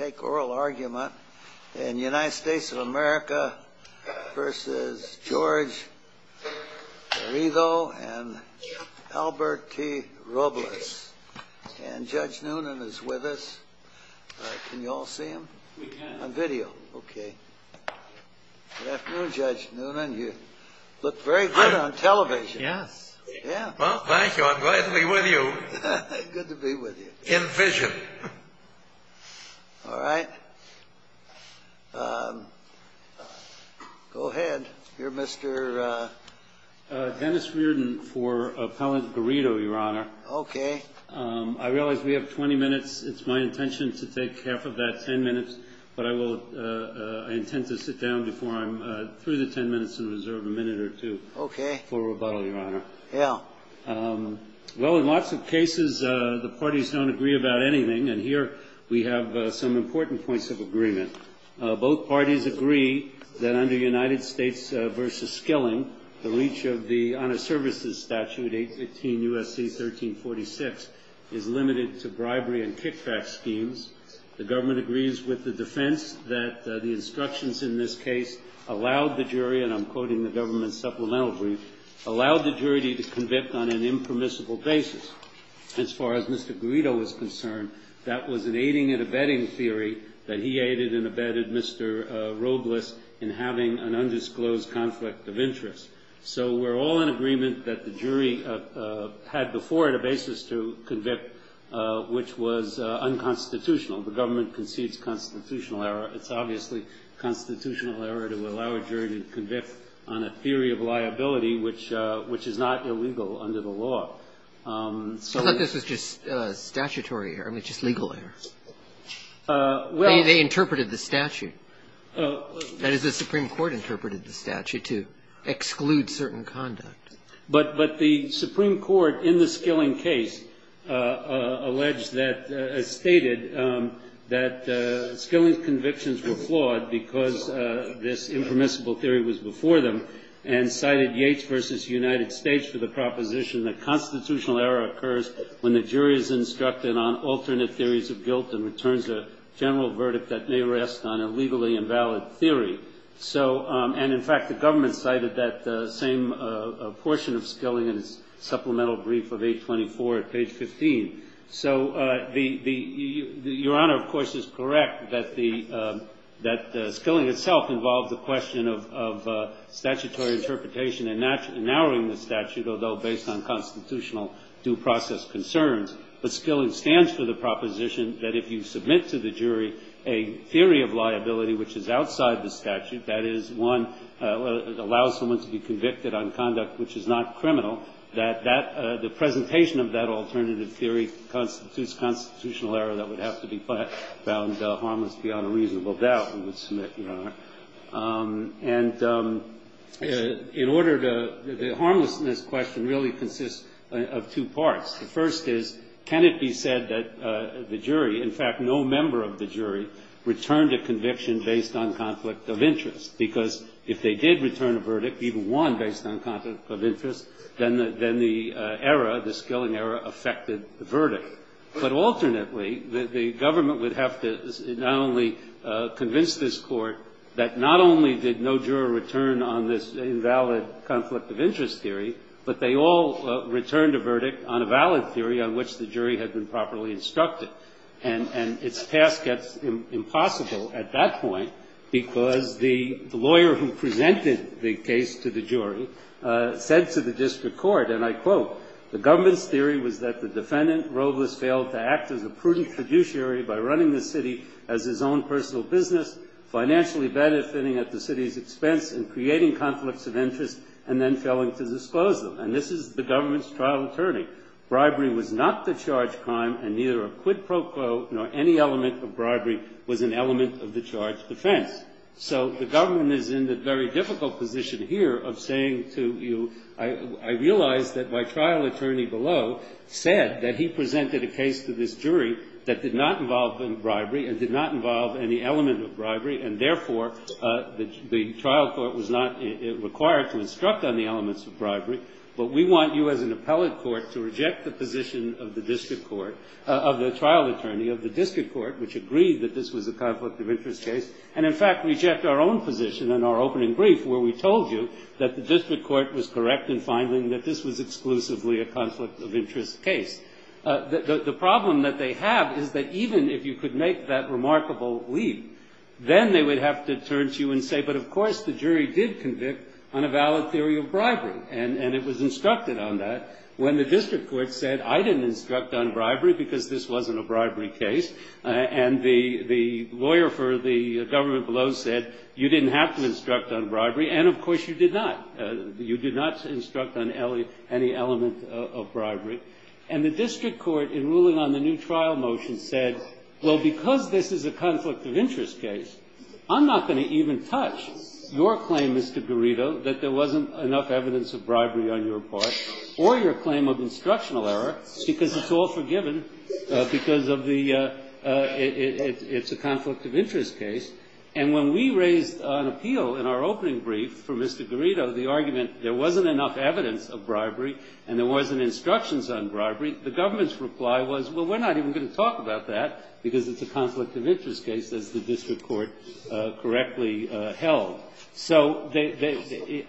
and Albert T. Robles, and Judge Noonan is with us. Can you all see him? A video? Okay. Good afternoon, Judge Noonan. You look very good on television. Yeah. Well, thank you. I'm glad to be with you. Good to be with you. In vision. All right. Go ahead. You're Mr.? Dennis Reardon for Appellant Garrido, Your Honor. Okay. I realize we have 20 minutes. It's my intention to take half of that 10 minutes, but I intend to sit down before I'm through the 10 minutes and reserve a minute or two for rebuttal, Your Honor. The case is limited to bribery and kickback schemes. The government agrees with the defense that the instructions in this case allowed the jury, and I'm quoting the government's supplemental brief, allowed the jury to convict on an impermissible basis. As far as Mr. Garrido is concerned, that was an aiding and abetting theory that he aided and abetted Mr. Robles in having an undisclosed conflict of interest. I thought this was just statutory error. I mean, just legal errors. They interpreted the statute. That is, the Supreme Court interpreted the statute to exclude certain conduct. But the Supreme Court, in the Skilling case, alleged that, stated that Skilling's convictions were flawed because this impermissible theory was before them, and cited Yates v. United States for the proposition that constitutional error occurs when the jury is instructed on alternate theories of guilt and returns a general verdict that may rest on a legally invalid theory. And, in fact, the government cited that same portion of Skilling's supplemental brief of 824 at page 15. So, Your Honor, of course, is correct that Skilling itself involved the question of statutory interpretation and narrowing the statute, although based on constitutional due process concerns. But Skilling stands for the proposition that if you submit to the jury a theory of liability which is outside the statute, that is, one, allows someone to be convicted on conduct which is not criminal, that the presentation of that alternative theory constitutes constitutional error that would have to be found harmless beyond a reasonable doubt. And in order to, the harmlessness question really consists of two parts. The first is, can it be said that the jury, in fact, no member of the jury, returned a conviction based on conflict of interest? Because if they did return a verdict, even one based on conflict of interest, then the error, the Skilling error, affected the verdict. But, alternately, the government would have to not only convince this Court that not only did no juror return on this invalid conflict of interest theory, but they all returned a verdict on a valid theory on which the jury had been properly instructed. And its task gets impossible at that point, because the lawyer who presented the case to the jury said to the district court, and I quote, the government's theory was that the defendant Robles failed to act as a prudent fiduciary by running the city as his own personal business, financially benefiting at the city's expense, and creating conflicts of interest, and then going to disposal. And this is the government's trial attorney. Bribery was not the charged crime, and neither a quid pro quo nor any element of bribery was an element of the charged offense. So the government is in the very difficult position here of saying to you, I realize that my trial attorney below said that he presented a case to this jury that did not involve bribery and did not involve any element of bribery, and therefore the trial court was not required to instruct on the elements of bribery. But we want you as an appellate court to reject the position of the district court, of the trial attorney of the district court, which agreed that this was a conflict of interest case, and in fact reject our own position in our opening brief where we told you that the district court was correct in finding that this was exclusively a conflict of interest case. The problem that they have is that even if you could make that remarkable leap, then they would have to turn to you and say, but of course the jury did convict on a valid theory of bribery, and it was instructed on that when the district court said, I didn't instruct on bribery because this wasn't a bribery case, and the lawyer for the government below said, you didn't have to instruct on bribery, and of course you did not. You did not instruct on any element of bribery, and the district court, in ruling on the new trial motion, said, well, because this is a conflict of interest case, I'm not going to even touch your claim, Mr. Garrido, that there wasn't enough evidence of bribery on your part, or your claim of instructional error, because it's all forgiven because it's a conflict of interest case. And when we raised an appeal in our opening brief for Mr. Garrido, the argument, there wasn't enough evidence of bribery, and there wasn't instructions on bribery, the government's reply was, well, we're not even going to talk about that because it's a conflict of interest case that the district court correctly held. So,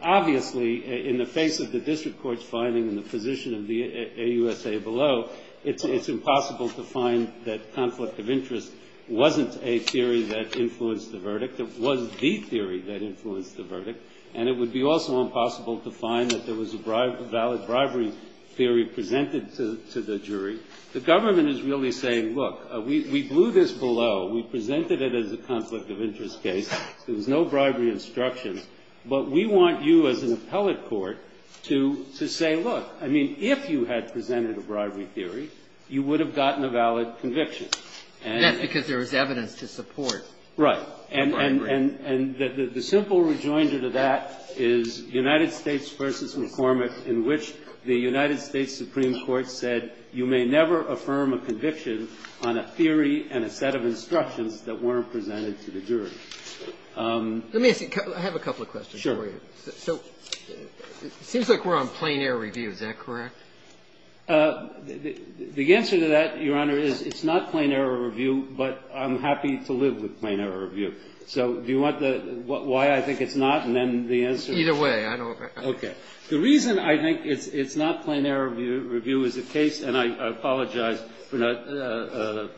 obviously, in the face of the district court's finding in the position of the AUSA below, it's impossible to find that conflict of interest wasn't a theory that influenced the verdict, it wasn't the theory that influenced the verdict, and it would be also impossible to find that there was a valid bribery theory presented to the jury. The government is really saying, look, we blew this below, we presented it as a conflict of interest case, there was no bribery instruction, but we want you as an appellate court to say, look, I mean, if you had presented a bribery theory, you would have gotten a valid conviction. Let me ask you, I have a couple of questions for you. It seems like we're on plain error review, is that correct? The answer to that, Your Honor, is it's not plain error review, but I'm happy to live with plain error review. So, do you want the why I think it's not, and then the answer? Either way, I don't. The reason I think it's not plain error review is the case, and I apologize for not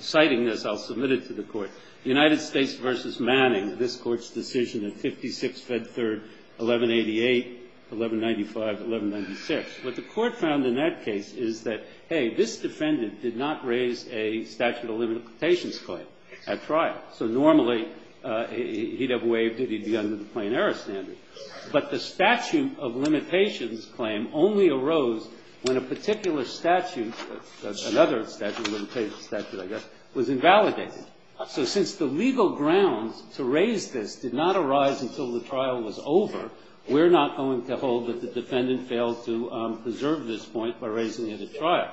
citing this, I'll submit it to the court. United States v. Manning, this court's decision in 56 Fed Third, 1188, 1195, 1196, what the court found in that case is that, hey, this defendant did not raise a statute of limitations claim at trial. So, normally, he'd have waived it, he'd be under the plain error standing. But the statute of limitations claim only arose when a particular statute, another statute, I guess, was invalidated. So, since the legal grounds to raise this did not arise until the trial was over, we're not going to hold that the defendant failed to preserve this point by raising it at trial.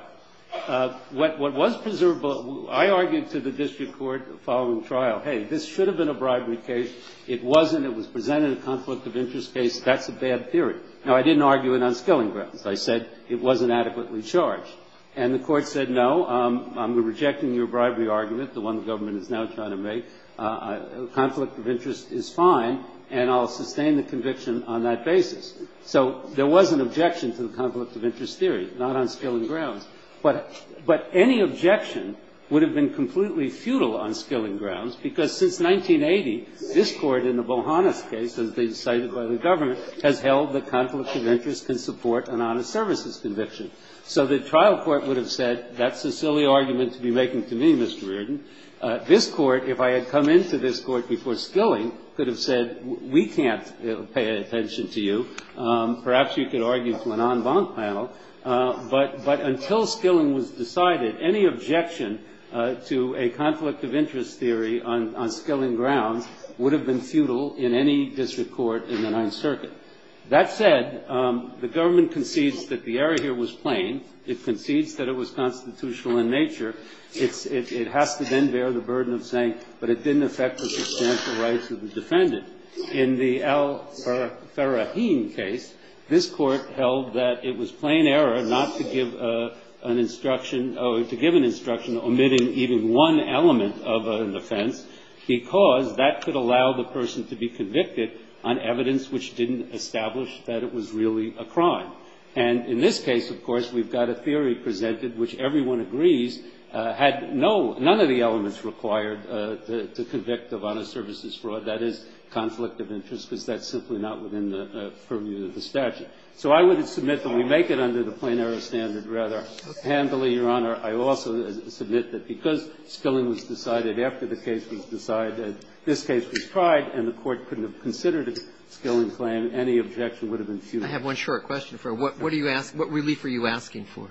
What was preservable, I argued to the district court following trial, hey, this should have been a bribery case. It wasn't. It was presented as a conflict of interest case. That's a bad theory. Now, I didn't argue it on stilling grounds. I said it wasn't adequately charged. And the court said, no, I'm rejecting your bribery argument, the one the government is now trying to make. A conflict of interest is fine, and I'll sustain the conviction on that basis. So, there was an objection to the conflict of interest theory, not on stilling grounds. But any objection would have been completely futile on stilling grounds, because since 1980, this court in the Bohannes case, as they decided by the government, has held the conflict of interest can support an honest services conviction. So, the trial court would have said, that's a silly argument to be making for me, Mr. Reardon. This court, if I had come into this court before stilling, could have said, we can't pay attention to you. Perhaps you could argue for an en banc panel. But until stilling was decided, any objection to a conflict of interest theory on stilling grounds would have been futile in any district court in the Ninth Circuit. That said, the government concedes that the error here was plain. It concedes that it was constitutional in nature. It has to then bear the burden of saying, but it didn't affect the substantial rights of the defendant. In the Al-Faraheen case, this court held that it was plain error not to give an instruction, or to give an instruction omitting even one element of an offense, because that could allow the person to be convicted on evidence which didn't establish that it was really a crime. And in this case, of course, we've got a theory presented which everyone agrees had none of the elements required to convict the honest services fraud, that is, conflict of interest, because that's simply not within the purview of the statute. So, I would submit that we make it under the plain error standard rather handily, Your Honor. I also submit that because stilling was decided after the case was decided, this case was tried, and the court couldn't have considered a stilling claim, any objection would have been futile. I have one short question for you. What relief are you asking for?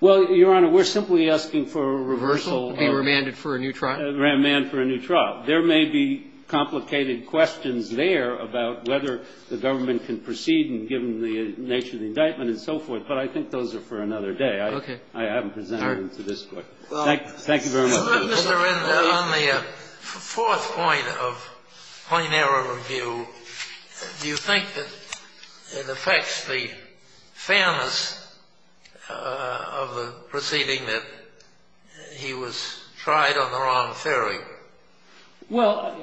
Well, Your Honor, we're simply asking for a reversal. Being remanded for a new trial? Remanded for a new trial. There may be complicated questions there about whether the government can proceed and give them the nature of the indictment and so forth, but I think those are for another day. Okay. I haven't presented them for this court. Thank you very much. On the fourth point of plain error review, do you think that it affects the fairness of the proceeding that he was tried on the wrong theory? Well,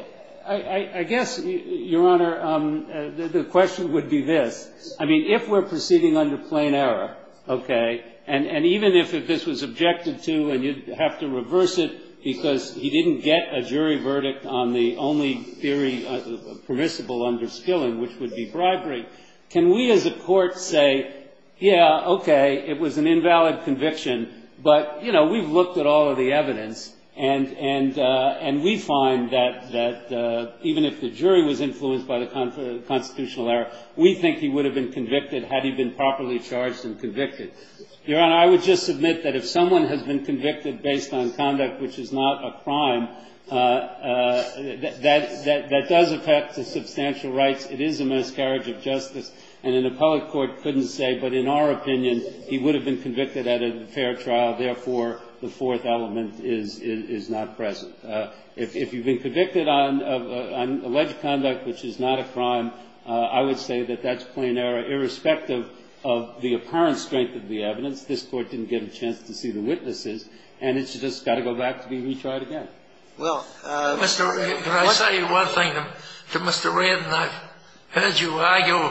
I guess, Your Honor, the question would be this. I mean, if we're proceeding under plain error, okay, and even if this was objected to and you'd have to reverse it because he didn't get a jury verdict on the only theory permissible under stilling, which would be bribery, can we as a court say, yeah, okay, it was an invalid conviction, but, you know, we've looked at all of the evidence, and we find that even if the jury was influenced by the constitutional error, we think he would have been convicted had he been properly charged and convicted. Your Honor, I would just submit that if someone has been convicted based on conduct which is not a crime, that does affect the substantial rights. It is a miscarriage of justice, and an appellate court couldn't say, but in our opinion, he would have been convicted at a fair trial. Therefore, the fourth element is not present. If you've been convicted on alleged conduct which is not a crime, I would say that that's plain error, irrespective of the apparent strength of the evidence. This court didn't get a chance to see the witnesses, and it's just got to go back to being retried again. Mr. Redden, can I tell you one thing? To Mr. Redden, I've heard you argue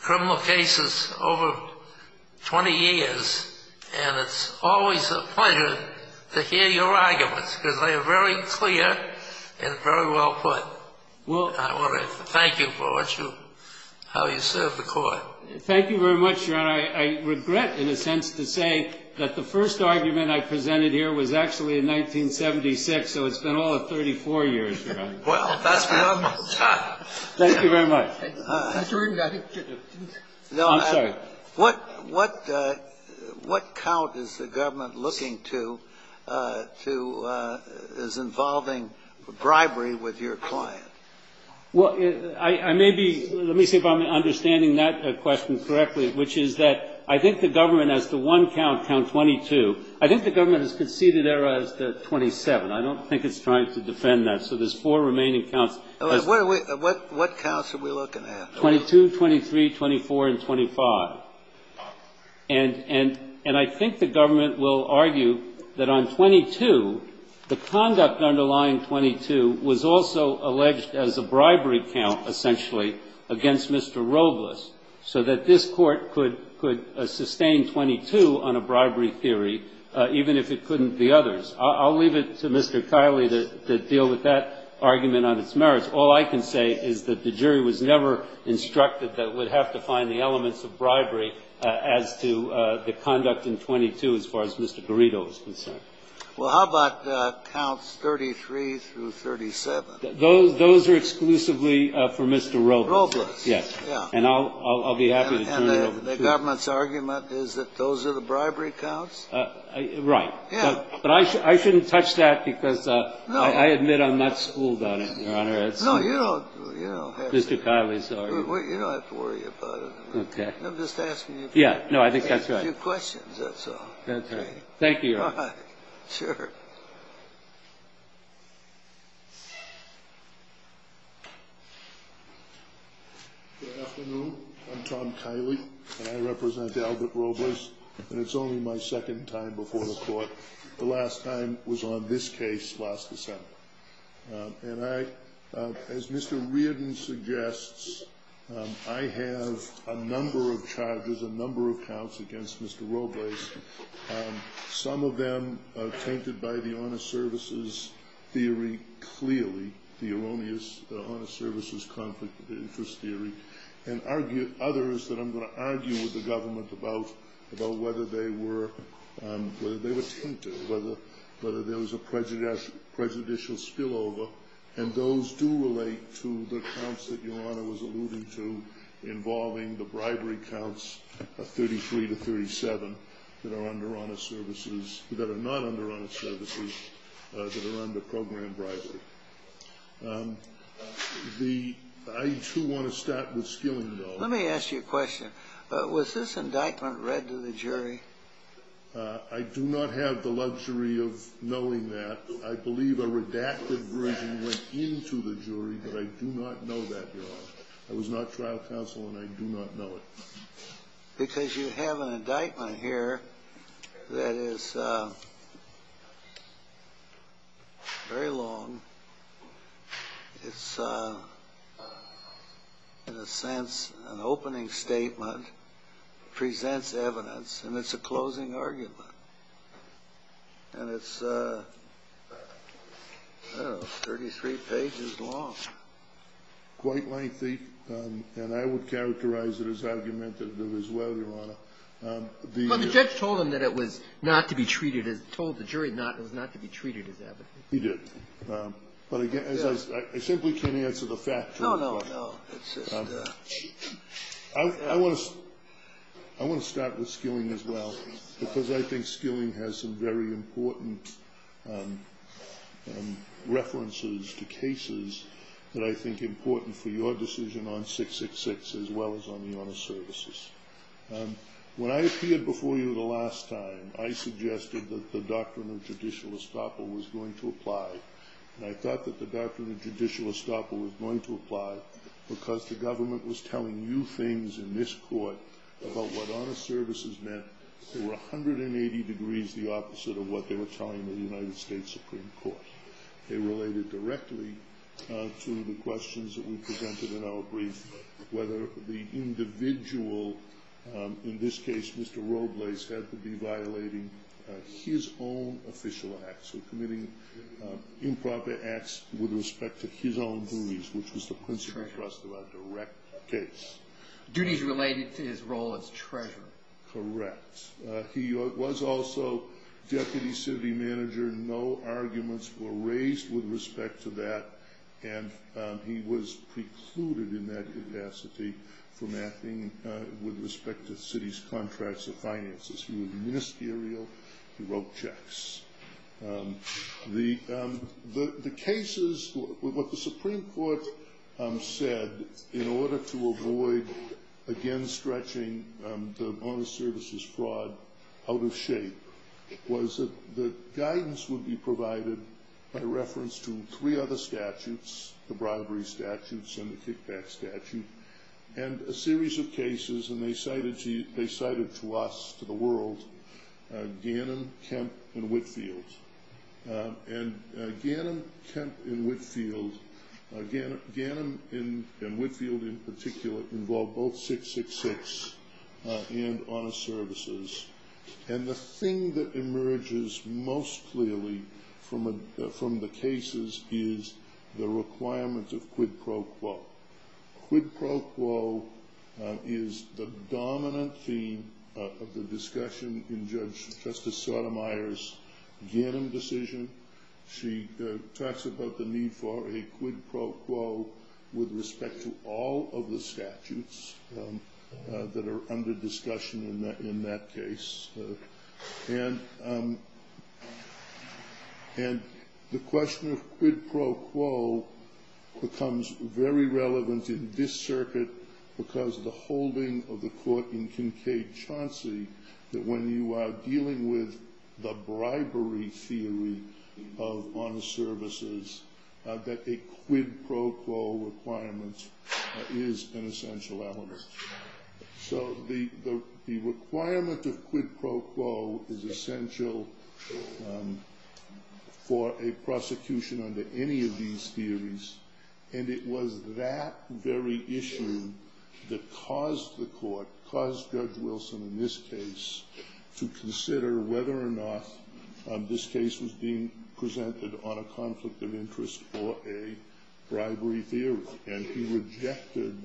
criminal cases over 20 years, and it's always a pleasure to hear your arguments, because they are very clear and very well put. I want to thank you for how you serve the court. Thank you very much, Your Honor. I regret, in a sense, to say that the first argument I presented here was actually in 1976, so it's been all of 34 years, Your Honor. Well, that's enough. Thank you very much. I'm sorry. What count is the government looking to as involving bribery with your client? Well, I may be – let me see if I'm understanding that question correctly, which is that I think the government has the one count, count 22. I think the government has conceded error as to 27. I don't think it's trying to defend that, so there's four remaining counts. What counts are we looking at? 22, 23, 24, and 25. And I think the government will argue that on 22, the conduct underlying 22 was also alleged as a bribery count, essentially, against Mr. Robles, so that this court could sustain 22 on a bribery theory, even if it couldn't the others. I'll leave it to Mr. Kiley to deal with that argument on its merits. All I can say is that the jury was never instructed that it would have to find the elements of bribery as to the conduct in 22 as far as Mr. Garrido is concerned. Well, how about counts 33 through 37? Those are exclusively for Mr. Robles. Robles. Yes, and I'll be happy to turn it over to you. And the government's argument is that those are the bribery counts? Right. No, you don't have to worry about it. I'm just asking you a few questions, that's all. Thank you. Sure. Good afternoon. I'm Tom Kiley, and I represent Albert Robles, and it's only my second time before the court. The last time was on this case last December. And as Mr. Reardon suggests, I have a number of charges, a number of counts against Mr. Robles. Some of them are tainted by the honor services theory, clearly, the erroneous honor services conflict interest theory, and others that I'm going to argue with the government about whether they were tainted, whether there was a prejudicial spillover. And those do relate to the counts that Your Honor was alluding to involving the bribery counts of 33 to 37 that are under honor services, that are not under honor services, that are under program bribery. I do want to start with Skilling, though. Let me ask you a question. Was this indictment read to the jury? I do not have the luxury of knowing that. I believe a redacted version went in to the jury, but I do not know that, Your Honor. I was not trial counsel, and I do not know it. Because you have an indictment here that is very long. It's, in a sense, an opening statement, presents evidence, and it's a closing argument. And it's, I don't know, 33 pages long. Quite lengthy, and I would characterize it as argumentative as well, Your Honor. But the judge told him that it was not to be treated as evidence. He did. But again, as I said, we're turning it to the fact. No, no, no. I want to start with Skilling as well, because I think Skilling has some very important references to cases that I think are important for your decision on 666 as well as on the honor services. When I appeared before you the last time, I suggested that the doctrine of judicial estoppel was going to apply. And I thought that the doctrine of judicial estoppel was going to apply because the government was telling you things in this court about what honor services meant. They were 180 degrees the opposite of what they were telling the United States Supreme Court. They related directly to the questions that we presented in our brief, whether the individual, in this case, Mr. Robles, had to be violating his own official acts. So committing improper acts with respect to his own duties, which was the principal trust of a direct case. Duties related to his role as treasurer. Correct. He was also deputy city manager. No arguments were raised with respect to that. And he was precluded in that capacity from acting with respect to the city's contracts and finances. He was ministerial. He wrote checks. The cases, what the Supreme Court said, in order to avoid again stretching the honor services fraud out of shape, was that guidance would be provided by reference to three other statutes, the bribery statutes and the kickback statute, and a series of cases, and they cited to us, to the world, Gannon, Kemp, and Whitfield. And Gannon, Kemp, and Whitfield in particular involve both 666 and honor services. And the thing that emerges most clearly from the cases is the requirement of quid pro quo. Quid pro quo is the dominant theme of the discussion in Justice Sotomayor's Gannon decision. She talks about the need for a quid pro quo with respect to all of the statutes that are under discussion in that case. And the question of quid pro quo becomes very relevant in this circuit because the holding of the court in Kincaid-Chauncey, that when you are dealing with the bribery theory of honor services, that a quid pro quo requirement is an essential element. So the requirement of quid pro quo is essential for a prosecution under any of these theories, and it was that very issue that caused the court, caused Judge Wilson in this case, to consider whether or not this case was being presented on a conflict of interest or a bribery theory. And he rejected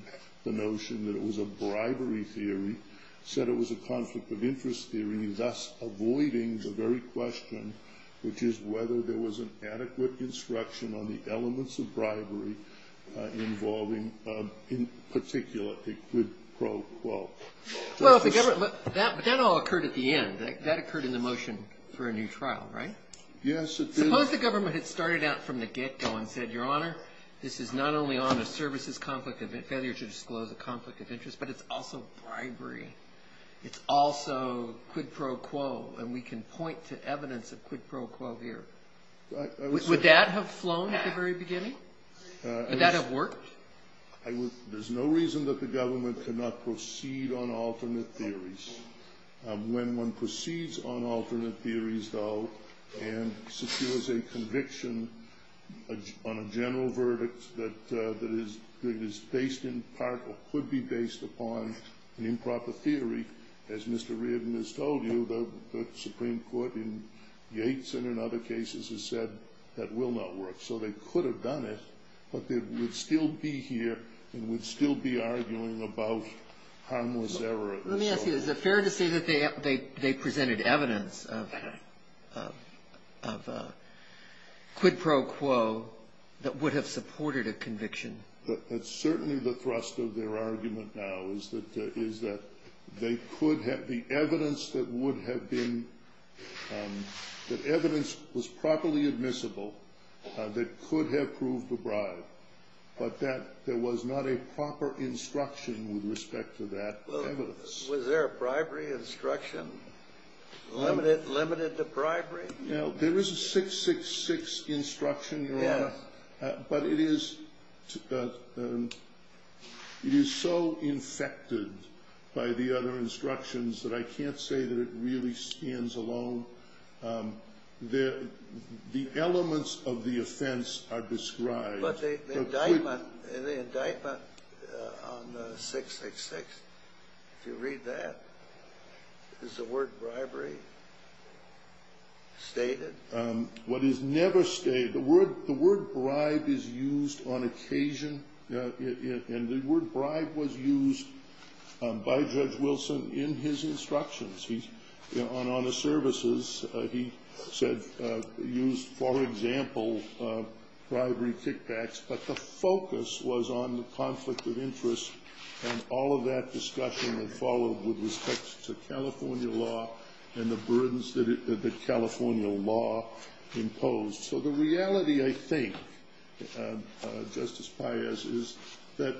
the notion that it was a bribery theory, said it was a conflict of interest theory, thus avoiding the very question, which is whether there was an adequate instruction on the elements of bribery involving, in particular, a quid pro quo. Well, that all occurred at the end. That occurred in the motion for a new trial, right? Yes, it did. Suppose the government had started out from the get-go and said, Your Honor, this is not only on a services conflict of interest, but it's also bribery. It's also quid pro quo, and we can point to evidence of quid pro quo here. Would that have flown at the very beginning? Would that have worked? There's no reason that the government cannot proceed on alternate theories. When one proceeds on alternate theories, though, and secures a conviction on a general verdict that is based in part or could be based upon the improper theory, as Mr. Reardon has told you, the Supreme Court in Yates and in other cases has said that will not work. So they could have done it, but they would still be here and would still be arguing about harmless error. Let me ask you, is it fair to say that they presented evidence of quid pro quo that would have supported a conviction? It's certainly the thrust of their argument now is that they could have the evidence that would have been – that could have proved the bribe, but that there was not a proper instruction with respect to that evidence. Was there a bribery instruction? Limited to bribery? There is a 666 instruction, Your Honor, but it is so infected by the other instructions that I can't say that it really stands alone. The elements of the offense are described. But the indictment on 666, if you read that, is the word bribery stated? What is never stated – the word bribe is used on occasion, and the word bribe was used by Judge Wilson in his instructions. On the services, he said – used, for example, bribery kickbacks, but the focus was on the conflict of interest and all of that discussion that followed with respect to California law and the burdens that California law imposed. So the reality, I think, Justice Paez, is that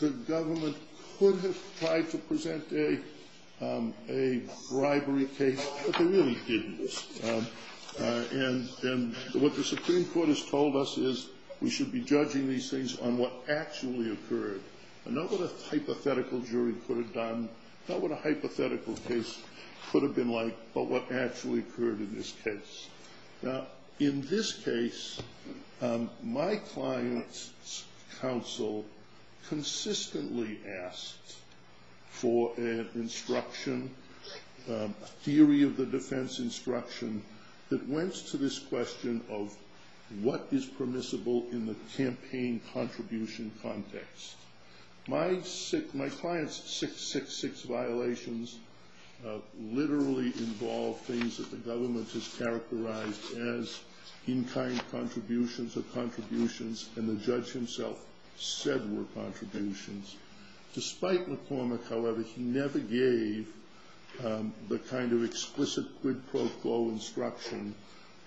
the government could have tried to present a bribery case, but they really didn't. And what the Supreme Court has told us is we should be judging these things on what actually occurred, not what a hypothetical jury could have done, not what a hypothetical case could have been like, but what actually occurred in this case. Now, in this case, my client's counsel consistently asked for an instruction, a theory of the defense instruction, that went to this question of what is permissible in the campaign contribution context. My client's 666 violations literally involve things that the government has characterized as in-kind contributions or contributions, and the judge himself said were contributions. Despite McCormick, however, he never gave the kind of explicit, good, pro-flow instruction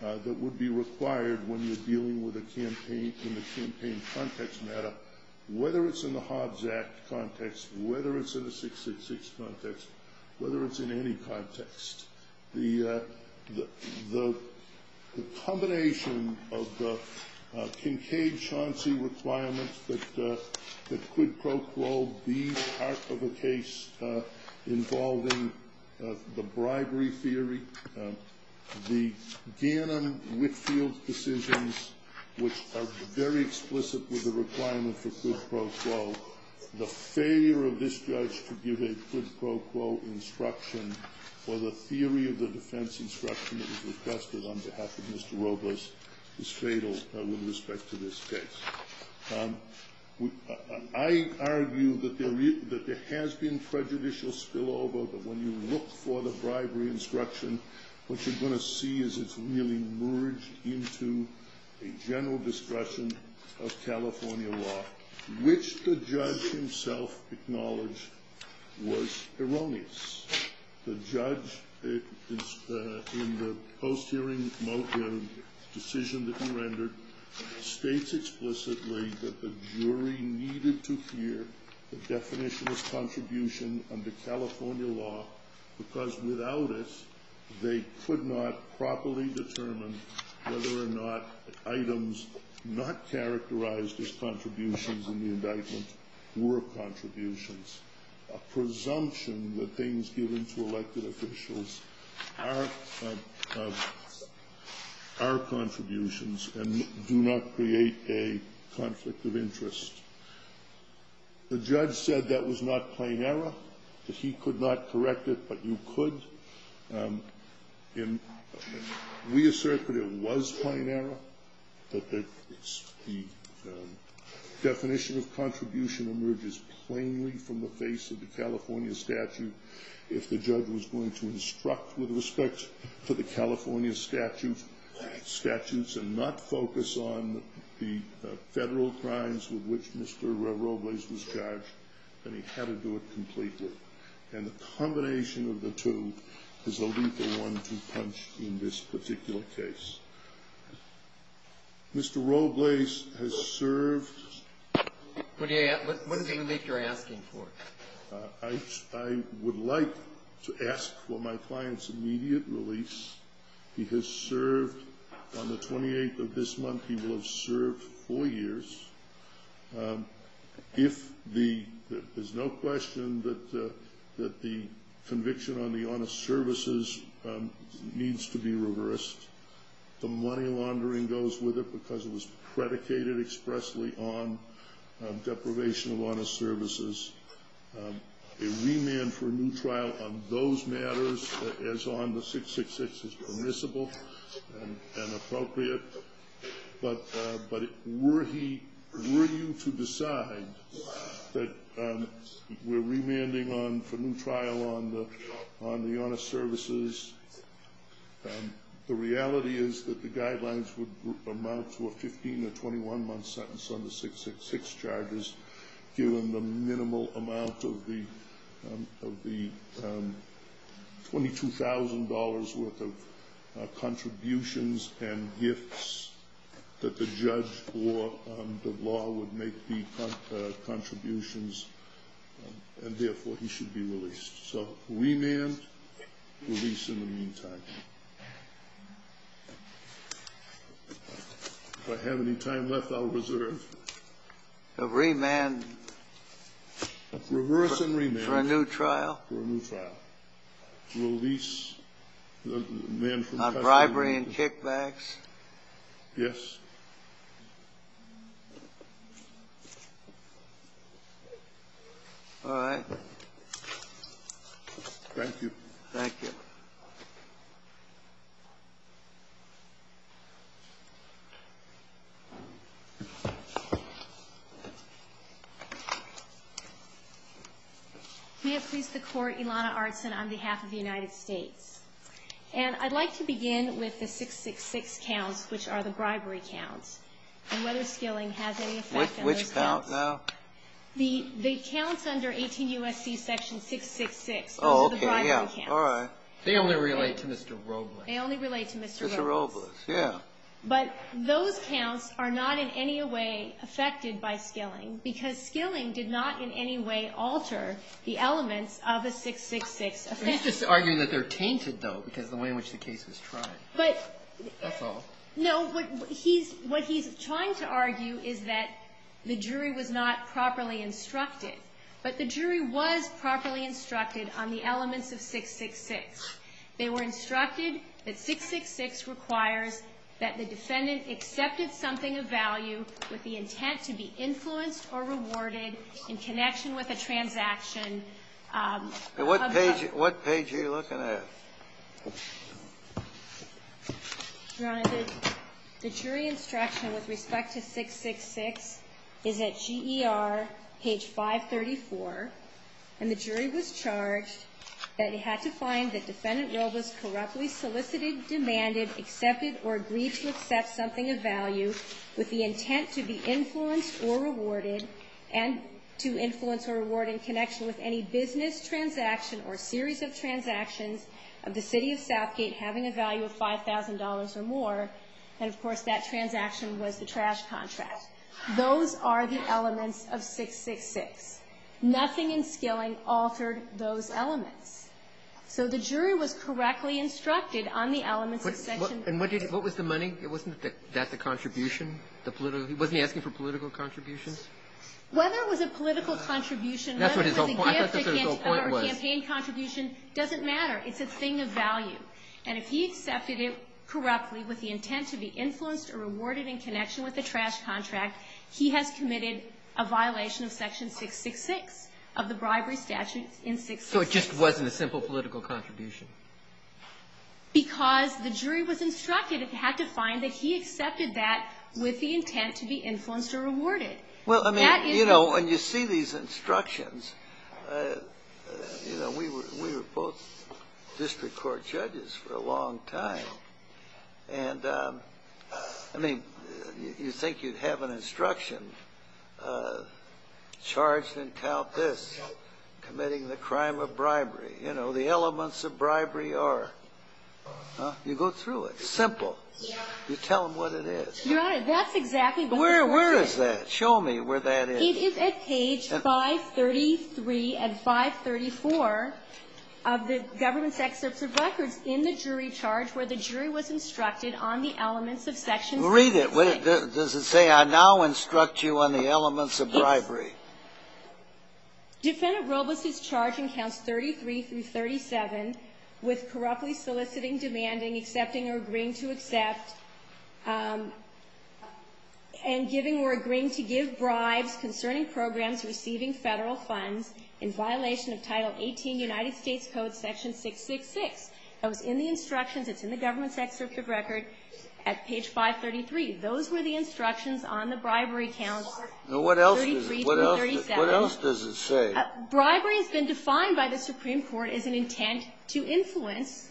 that would be required when you're dealing with a campaign in the campaign context matter, whether it's in the Hobbs Act context, whether it's in the 666 context, whether it's in any context. The combination of the Kincaid-Chauncey requirements that could pro-flow be part of a case involving the bribery theory, the Gannon-Whitfield decisions, which are very explicit with the requirement for good, pro-flow, the failure of this judge to give a good, pro-flow instruction for the theory of the defense instruction that was requested on behalf of Mr. Robles is fatal with respect to this case. I argue that there has been prejudicial spillover, but when you look for the bribery instruction, what you're going to see is it's really merged into a general discretion of California law, which the judge himself acknowledged was erroneous. The judge, in the post-hearing decision that you rendered, states explicitly that the jury needed to hear the definition of contribution under California law, because without it, they could not properly determine whether or not items not characterized as contributions in the indictment were contributions. A presumption that things given to elected officials are contributions and do not create a conflict of interest. The judge said that was not plain error. He could not correct it, but you could. We assert that it was plain error, but the definition of contribution emerges plainly from the face of the California statute. If the judge was going to instruct with respect to the California statutes and not focus on the federal crimes with which Mr. Robles was charged, then he had to do it completely. And the combination of the two is a lethal one to punch in this particular case. Mr. Robles has served... What is it you're asking for? I would like to ask for my client's immediate release. He has served on the 28th of this month. He will have served four years. There's no question that the conviction on the honest services needs to be reversed. The money laundering goes with it because it was predicated expressly on deprivation of honest services. A remand for a new trial on those matters as on the 666 is permissible and appropriate. But were he willing to decide that we're remanding on the new trial on the honest services, the reality is that the guidelines would amount for a 15 to 21-month sentence on the 666 charges, given the minimal amount of the $22,000 worth of contributions and gifts that the judge or the law would make the contributions, and therefore he should be released. So remand, release in the meantime. If I have any time left, I'll reserve. A remand... Reverse and remand. For a new trial? For a new trial. Release... Not bribery and kickbacks? Yes. All right. Thank you. Thank you. We have please the court Ilana Artson on behalf of the United States. And I'd like to begin with the 666 counts, which are the bribery counts. And whether skilling has any effect on those counts. Which counts, Al? The counts under 18 U.S.C. section 666. Oh, okay. The bribery counts. All right. They only relate to Mr. Robles. They only relate to Mr. Robles. Mr. Robles, yeah. But those counts are not in any way affected by skilling, because skilling did not in any way alter the elements of a 666 offense. Let's just argue that they're tainted, though, because of the way in which the case was tried. But... That's all. No, what he's trying to argue is that the jury was not properly instructed. But the jury was properly instructed on the elements of 666. They were instructed that 666 requires that the defendant accepted something of value with the intent to be influenced or rewarded in connection with a transaction... What page are you looking at? Your Honor, the jury instruction with respect to 666 is at GER, page 534. And the jury was charged that it had to find that the defendant Robles corruptly solicited, demanded, accepted, or agreed to accept something of value with the intent to be influenced or rewarded, and to influence or reward in connection with any business transaction or series of transactions of the city of Southgate having a value of $5,000 or more. And, of course, that transaction was the trash contract. Those are the elements of 666. Nothing in skilling altered those elements. So the jury was correctly instructed on the elements of 666. And what was the money? Wasn't that the contribution? Wasn't he asking for political contributions? Whether it was a political contribution or a campaign contribution doesn't matter. It's a thing of value. And if he accepted it correctly with the intent to be influenced or rewarded in connection with the trash contract, he has committed a violation of section 666 of the bribery statute in 666. So it just wasn't a simple political contribution? Because the jury was instructed. It had to find that he accepted that with the intent to be influenced or rewarded. Well, I mean, you know, when you see these instructions, you know, we were both district court judges for a long time. And, I mean, you'd think you'd have an instruction charged in CalPERS committing the crime of bribery. You know, the elements of bribery are. You go through it. It's simple. You tell them what it is. That's exactly what it is. Where is that? Show me where that is. It is at page 533 and 534 of the government's access to records in the jury charge where the jury was instructed on the elements of section 666. Read it. Does it say, I now instruct you on the elements of bribery? Defendant Robles is charged in counts 33 through 37 with corruptly soliciting, demanding, accepting, or agreeing to accept, and giving or agreeing to give bribes concerning programs receiving federal funds in violation of Title 18 United States Code section 666. So it's in the instructions. It's in the government's access to records at page 533. Those were the instructions on the bribery challenge. What else does it say? Bribery has been defined by the Supreme Court as an intent to influence.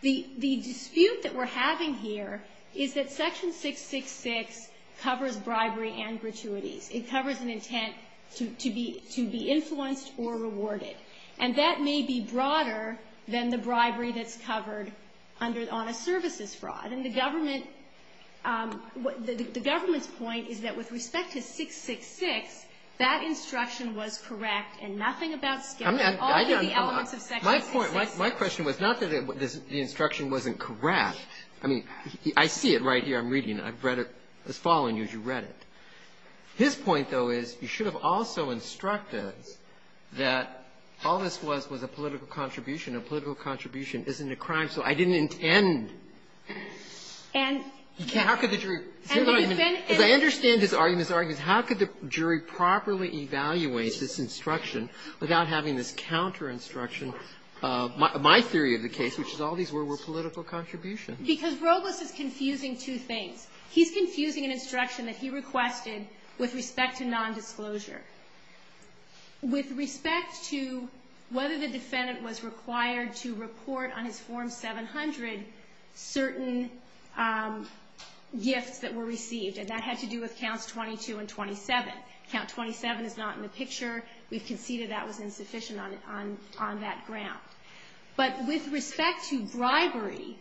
The dispute that we're having here is that section 666 covers bribery and gratuity. It covers an intent to be influenced or rewarded, and that may be broader than the bribery that's covered on a services fraud. The government's point is that with respect to 666, that instruction was correct, and nothing about the elements of section 666. My question was not that the instruction wasn't correct. I mean, I see it right here. I'm reading it. I've read it. It's following you as you read it. His point, though, is you should have also instructed that all this was was a political contribution. A political contribution isn't a crime, so I didn't intend. If I understand his argument, how could the jury properly evaluate this instruction without having this counter-instruction? My theory of the case, which is all these were political contributions. Because Robles is confusing two things. He's confusing an instruction that he requested with respect to nondisclosure. With respect to whether the defendant was required to report on his Form 700 certain gifts that were received, and that had to do with Counts 22 and 27. Count 27 is not in the picture. We conceded that was insufficient on that ground. But with respect to bribery,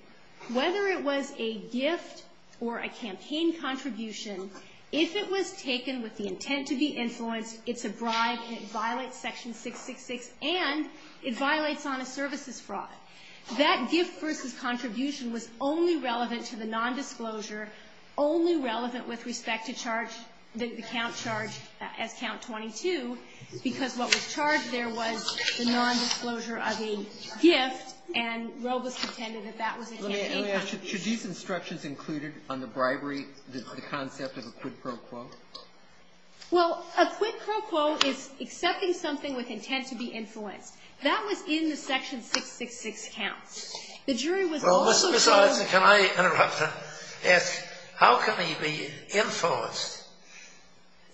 whether it was a gift or a campaign contribution, if it was taken with the intent to be influenced, it's a bribe and it violates Section 666, and it violates on a services fraud. That gift versus contribution was only relevant to the nondisclosure, only relevant with respect to charge, the count charge at Count 22, because what was charged there was the nondisclosure of a gift, and Robles pretended that that was insufficient. Should these instructions included on the bribery, the concept of a quid pro quo? Well, a quid pro quo is accepting something with intent to be influenced. That was in the Section 666 counts. The jury was also told… Well, Mr. Sorensen, can I interrupt? Yes. How can he be influenced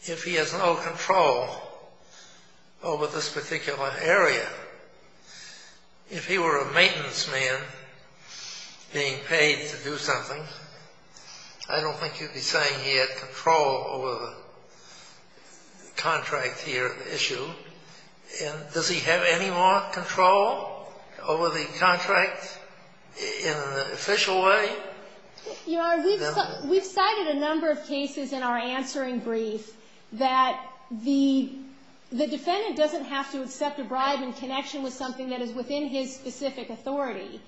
if he has no control over this particular area? If he were a maintenance man being paid to do something, I don't think you'd be saying he had control over the contracts here at the issue. Does he have any more control over the contracts in an official way? We've cited a number of cases in our answering brief that the defendant doesn't have to accept a bribe in connection with something that is within his specific authority,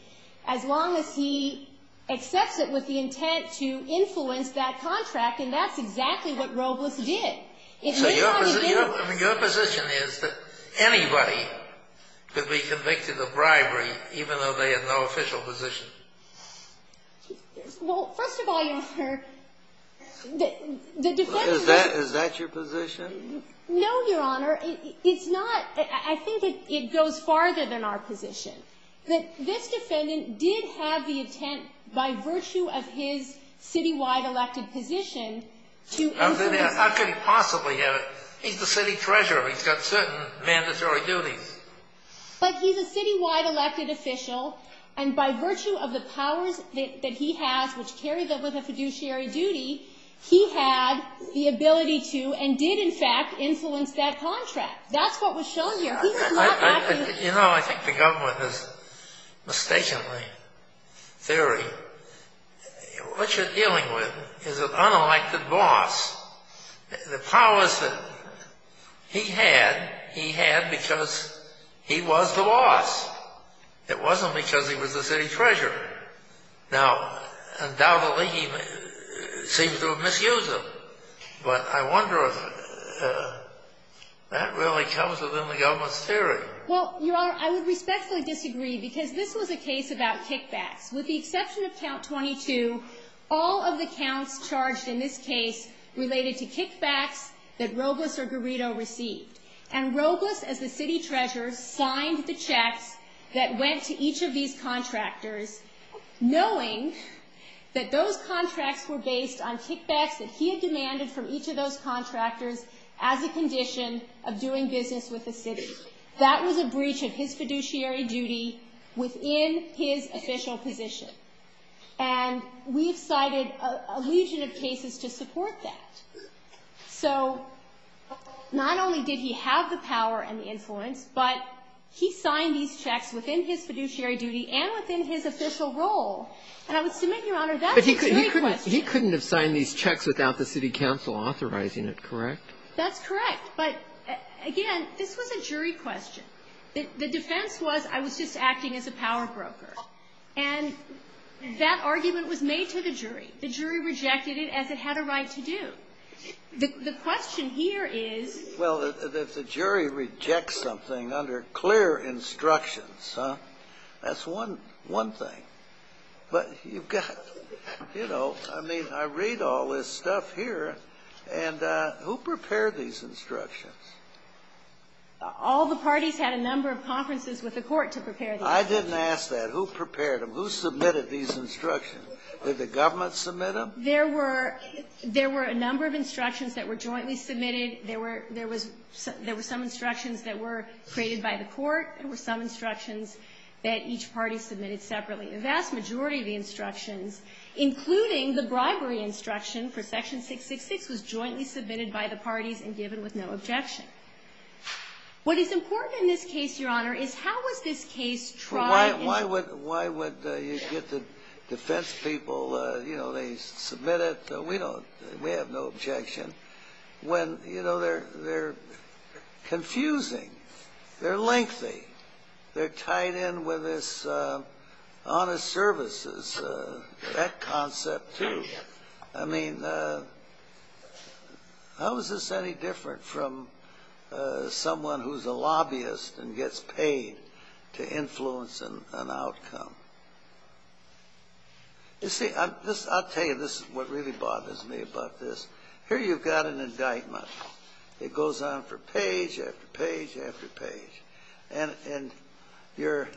as long as he accepts it with the intent to influence that contract, and that's exactly what Robles did. So your position is that anybody could be convicted of bribery even though they had no official position? Well, first of all, Your Honor, the defendant… Is that your position? No, Your Honor. It's not. I think it goes farther than our position. This defendant did have the intent by virtue of his citywide elected position to influence… How could he possibly have it? He's the city treasurer. He's got certain mandatory duties. But he's a citywide elected official, and by virtue of the powers that he has, which carried over the fiduciary duty, he had the ability to and did, in fact, influence that contract. That's what was shown here. You know, I think the government has mistaken my theory. What you're dealing with is an unelected boss. The powers that he had, he had because he was the boss. It wasn't because he was the city treasurer. Now, undoubtedly, he seems to have misused them, but I wonder if that really comes within the government's theory. Well, Your Honor, I would respectfully disagree because this was a case about kickbacks. With the exception of Count 22, all of the counts charged in this case related to kickbacks that Robles or Garrido received. And Robles, as the city treasurer, signed the check that went to each of these contractors, knowing that those contracts were based on kickbacks that he had demanded from each of those contractors as a condition of doing business with the city. That was a breach of his fiduciary duty within his official position. And we cited a legion of cases to support that. So, not only did he have the power and influence, but he signed these checks within his fiduciary duty and within his official role. And I would submit, Your Honor, that's a jury question. But he couldn't have signed these checks without the city council authorizing it, correct? That's correct. But, again, this was a jury question. The defense was I was just acting as a power broker. And that argument was made to the jury. The jury rejected it as it had a right to do. The question here is... Well, the jury rejects something under clear instructions, huh? That's one thing. But you've got, you know, I mean, I read all this stuff here. And who prepared these instructions? All the parties had a number of conferences with the court to prepare these instructions. I didn't ask that. Who prepared them? Who submitted these instructions? Did the government submit them? There were a number of instructions that were jointly submitted. There were some instructions that were created by the court. There were some instructions that each party submitted separately. A vast majority of the instructions, including the bribery instruction for Section 666, was jointly submitted by the parties and given with no objection. What is important in this case, Your Honor, is how would this case try to... Why would you get the defense people, you know, they submit it. We have no objection. When, you know, they're confusing. They're lengthy. They're tied in with this honest services, that concept, too. I mean, how is this any different from someone who's a lobbyist and gets paid to influence an outcome? You see, I'll tell you, this is what really bothers me about this. Here you've got an indictment. It goes on for page after page after page. And you're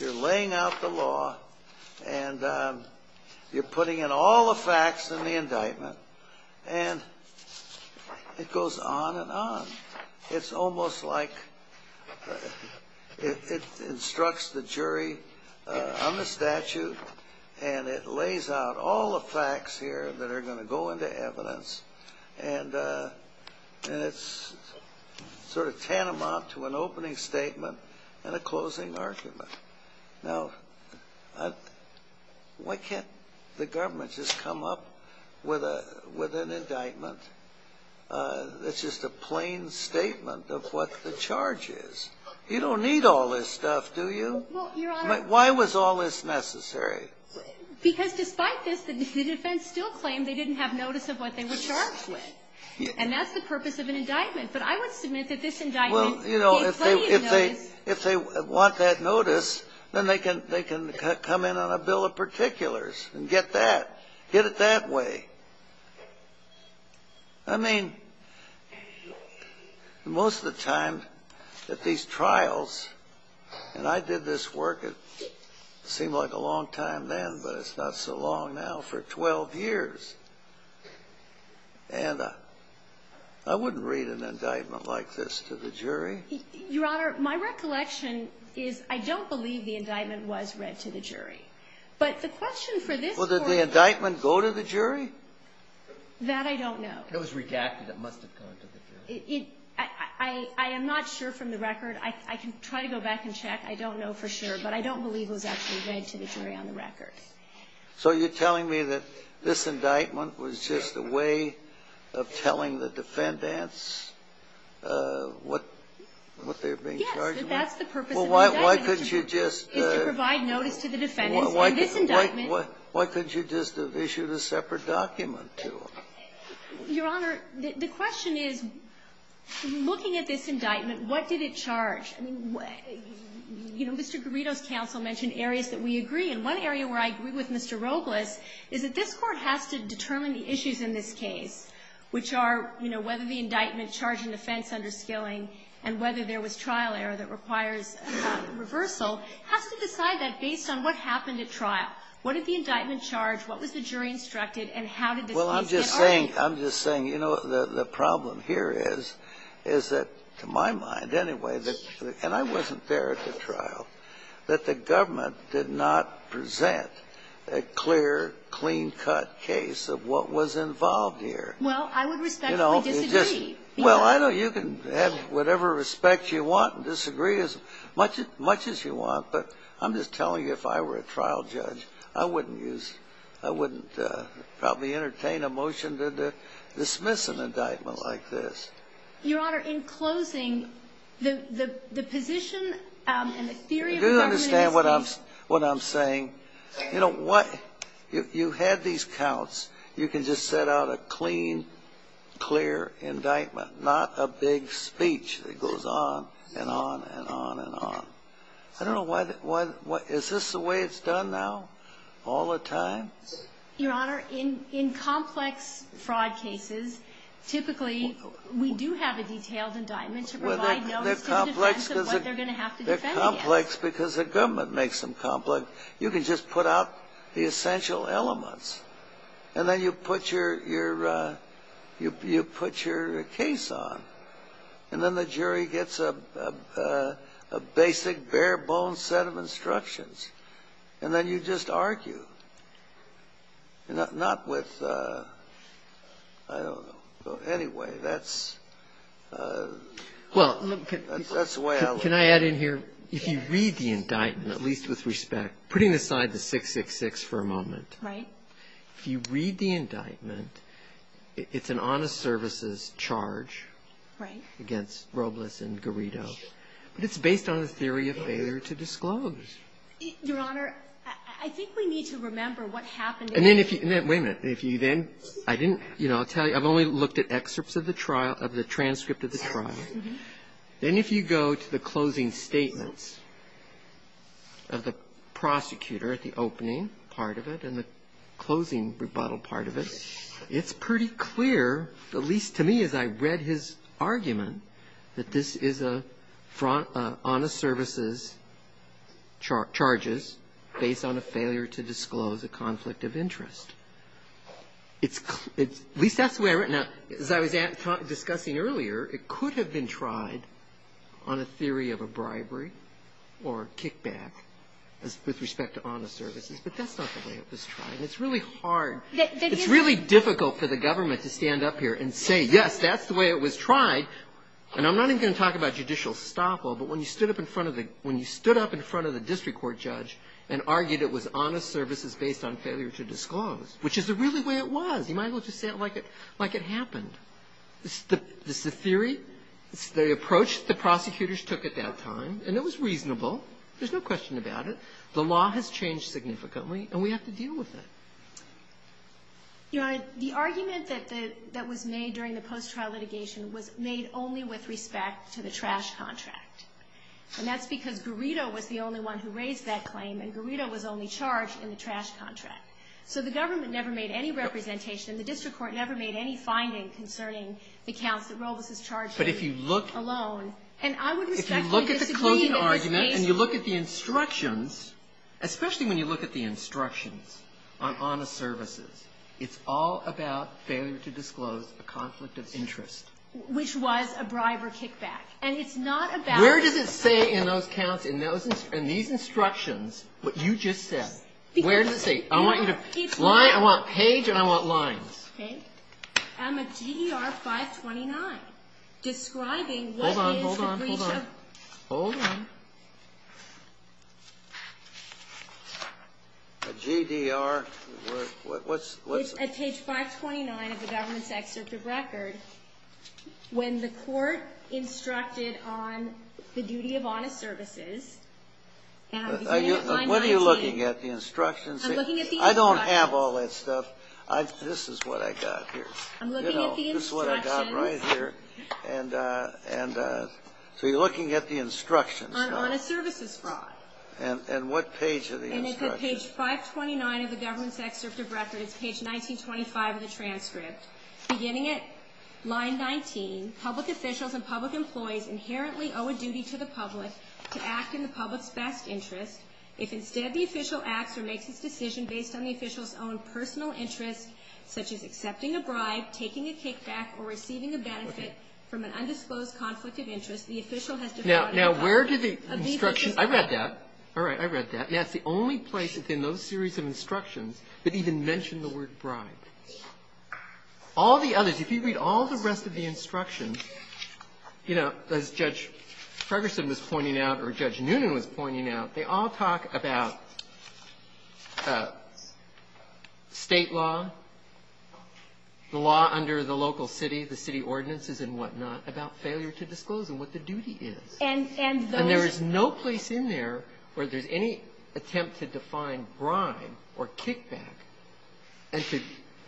laying out the law, and you're putting in all the facts in the indictment. And it goes on and on. It's almost like it instructs the jury on the statute, and it lays out all the facts here that are going to go into evidence. And it's sort of tantamount to an opening statement and a closing argument. Now, why can't the government just come up with an indictment that's just a plain statement of what the charge is? You don't need all this stuff, do you? Why was all this necessary? Because despite this, the defense still claimed they didn't have notice of what they were charged with. And that's the purpose of an indictment. But I would submit that this indictment can't pay you notice. Well, you know, if they want that notice, then they can come in on a bill of particulars and get that, get it that way. I mean, most of the time at these trials, and I did this work, it seemed like a long time then, but it's not so long now, for 12 years. And I wouldn't read an indictment like this to the jury. Your Honor, my recollection is I don't believe the indictment was read to the jury. Well, did the indictment go to the jury? That I don't know. It was redacted, it must have gone to the jury. I am not sure from the record. I can try to go back and check. I don't know for sure, but I don't believe it was actually read to the jury on the record. So you're telling me that this indictment was just a way of telling the defendants what they were being charged with? Yes, that's the purpose of an indictment. Well, why couldn't you just issue the separate document to them? Your Honor, the question is, looking at this indictment, what did it charge? You know, Mr. Garrido's counsel mentioned areas that we agree. And one area where I agree with Mr. Robles is that this court has to determine the issues in this case, which are whether the indictment charged an offense under skilling and whether there was trial error that requires reversal. It has to decide that based on what happened at trial. What did the indictment charge, what was the jury instructed, and how did the case differ? Well, I'm just saying, you know, the problem here is that, to my mind anyway, and I wasn't there at the trial, that the government did not present a clear, clean-cut case of what was involved here. Well, I would respectfully disagree. Well, I know you can have whatever respect you want and disagree as much as you want, but I'm just telling you, if I were a trial judge, I wouldn't probably entertain a motion to dismiss an indictment like this. Your Honor, in closing, the position and the theory of the government… You do understand what I'm saying. You know, what – if you had these counts, you could just set out a clean, clear indictment, not a big speech that goes on and on and on and on. I don't know why – is this the way it's done now, all the time? Your Honor, in complex fraud cases, typically, we do have the details and indictments to provide. They're complex because the government makes them complex. You can just put out the essential elements, and then you put your case on, and then the jury gets a basic, bare-bones set of instructions, and then you just argue. Not with – I don't know. But anyway, that's the way I look at it. Can I add in here, if you read the indictment, at least with respect, putting aside the 666 for a moment, if you read the indictment, it's an honest services charge against Robles and Garrido, but it's based on a theory of failure to disclose. Your Honor, I think we need to remember what happened… Wait a minute. I'll tell you, I've only looked at excerpts of the transcript of the trial. Then if you go to the closing statements of the prosecutor at the opening part of it, and the closing rebuttal part of it, it's pretty clear, at least to me as I read his argument, that this is an honest services charges based on a failure to disclose a conflict of interest. At least that's the way I read it. As I was discussing earlier, it could have been tried on a theory of a bribery or kickback with respect to honest services, but that's not the way it was tried. It's really hard. It's really difficult for the government to stand up here and say, yes, that's the way it was tried. And I'm not even going to talk about judicial stockhold, but when you stood up in front of the district court judge and argued it was honest services based on failure to disclose, which is really the way it was, you might as well just say it like it happened. It's the theory, the approach the prosecutors took at that time, and it was reasonable. There's no question about it. The law has changed significantly, and we have to deal with it. The argument that was made during the post-trial litigation was made only with respect to the trash contract, and that's because Burrito was the only one who raised that claim, and Burrito was only charged in the trash contract. So the government never made any representation, and the district court never made any findings concerning the counts that Robles was charged with alone. But if you look at the closing argument and you look at the instructions, especially when you look at the instructions on honest services, it's all about failure to disclose a conflict of interest. Which was a bribe or kickback, and it's not about... Where does it say in those counts, in these instructions, what you just said? Where does it say? I want you to... I want page and I want line. Okay. On the GDR 529, describing what... Hold on, hold on, hold on. Hold on. The GDR... What's... At page 529 of the government's executive record, when the court instructed on the duty of honest services... What are you looking at? The instructions? I'm looking at the instructions. I don't have all that stuff. This is what I got here. I'm looking at the instructions. This is what I got right here. And so you're looking at the instructions. On honest services fraud. And what page are the instructions? And it says page 529 of the government's executive record is page 1925 of the transcript. Beginning at line 19, public officials and public employees inherently owe a duty to the public to act in the public's best interest. If instead the official acts or makes a decision based on the official's own personal interests, such as accepting a bribe, taking a kickback, or receiving a benefit from an undisclosed conflict of interest, the official has... Now, where do the instructions... I read that. All right, I read that. And that's the only place in those series of instructions that even mention the word bribe. All the others, if you read all the rest of the instructions, you know, as Judge Ferguson was pointing out or Judge Noonan was pointing out, they all talk about state law, the law under the local city, the city ordinances and whatnot, about failure to disclose and what the duty is. And there is no place in there where there's any attempt to define bribe or kickback and to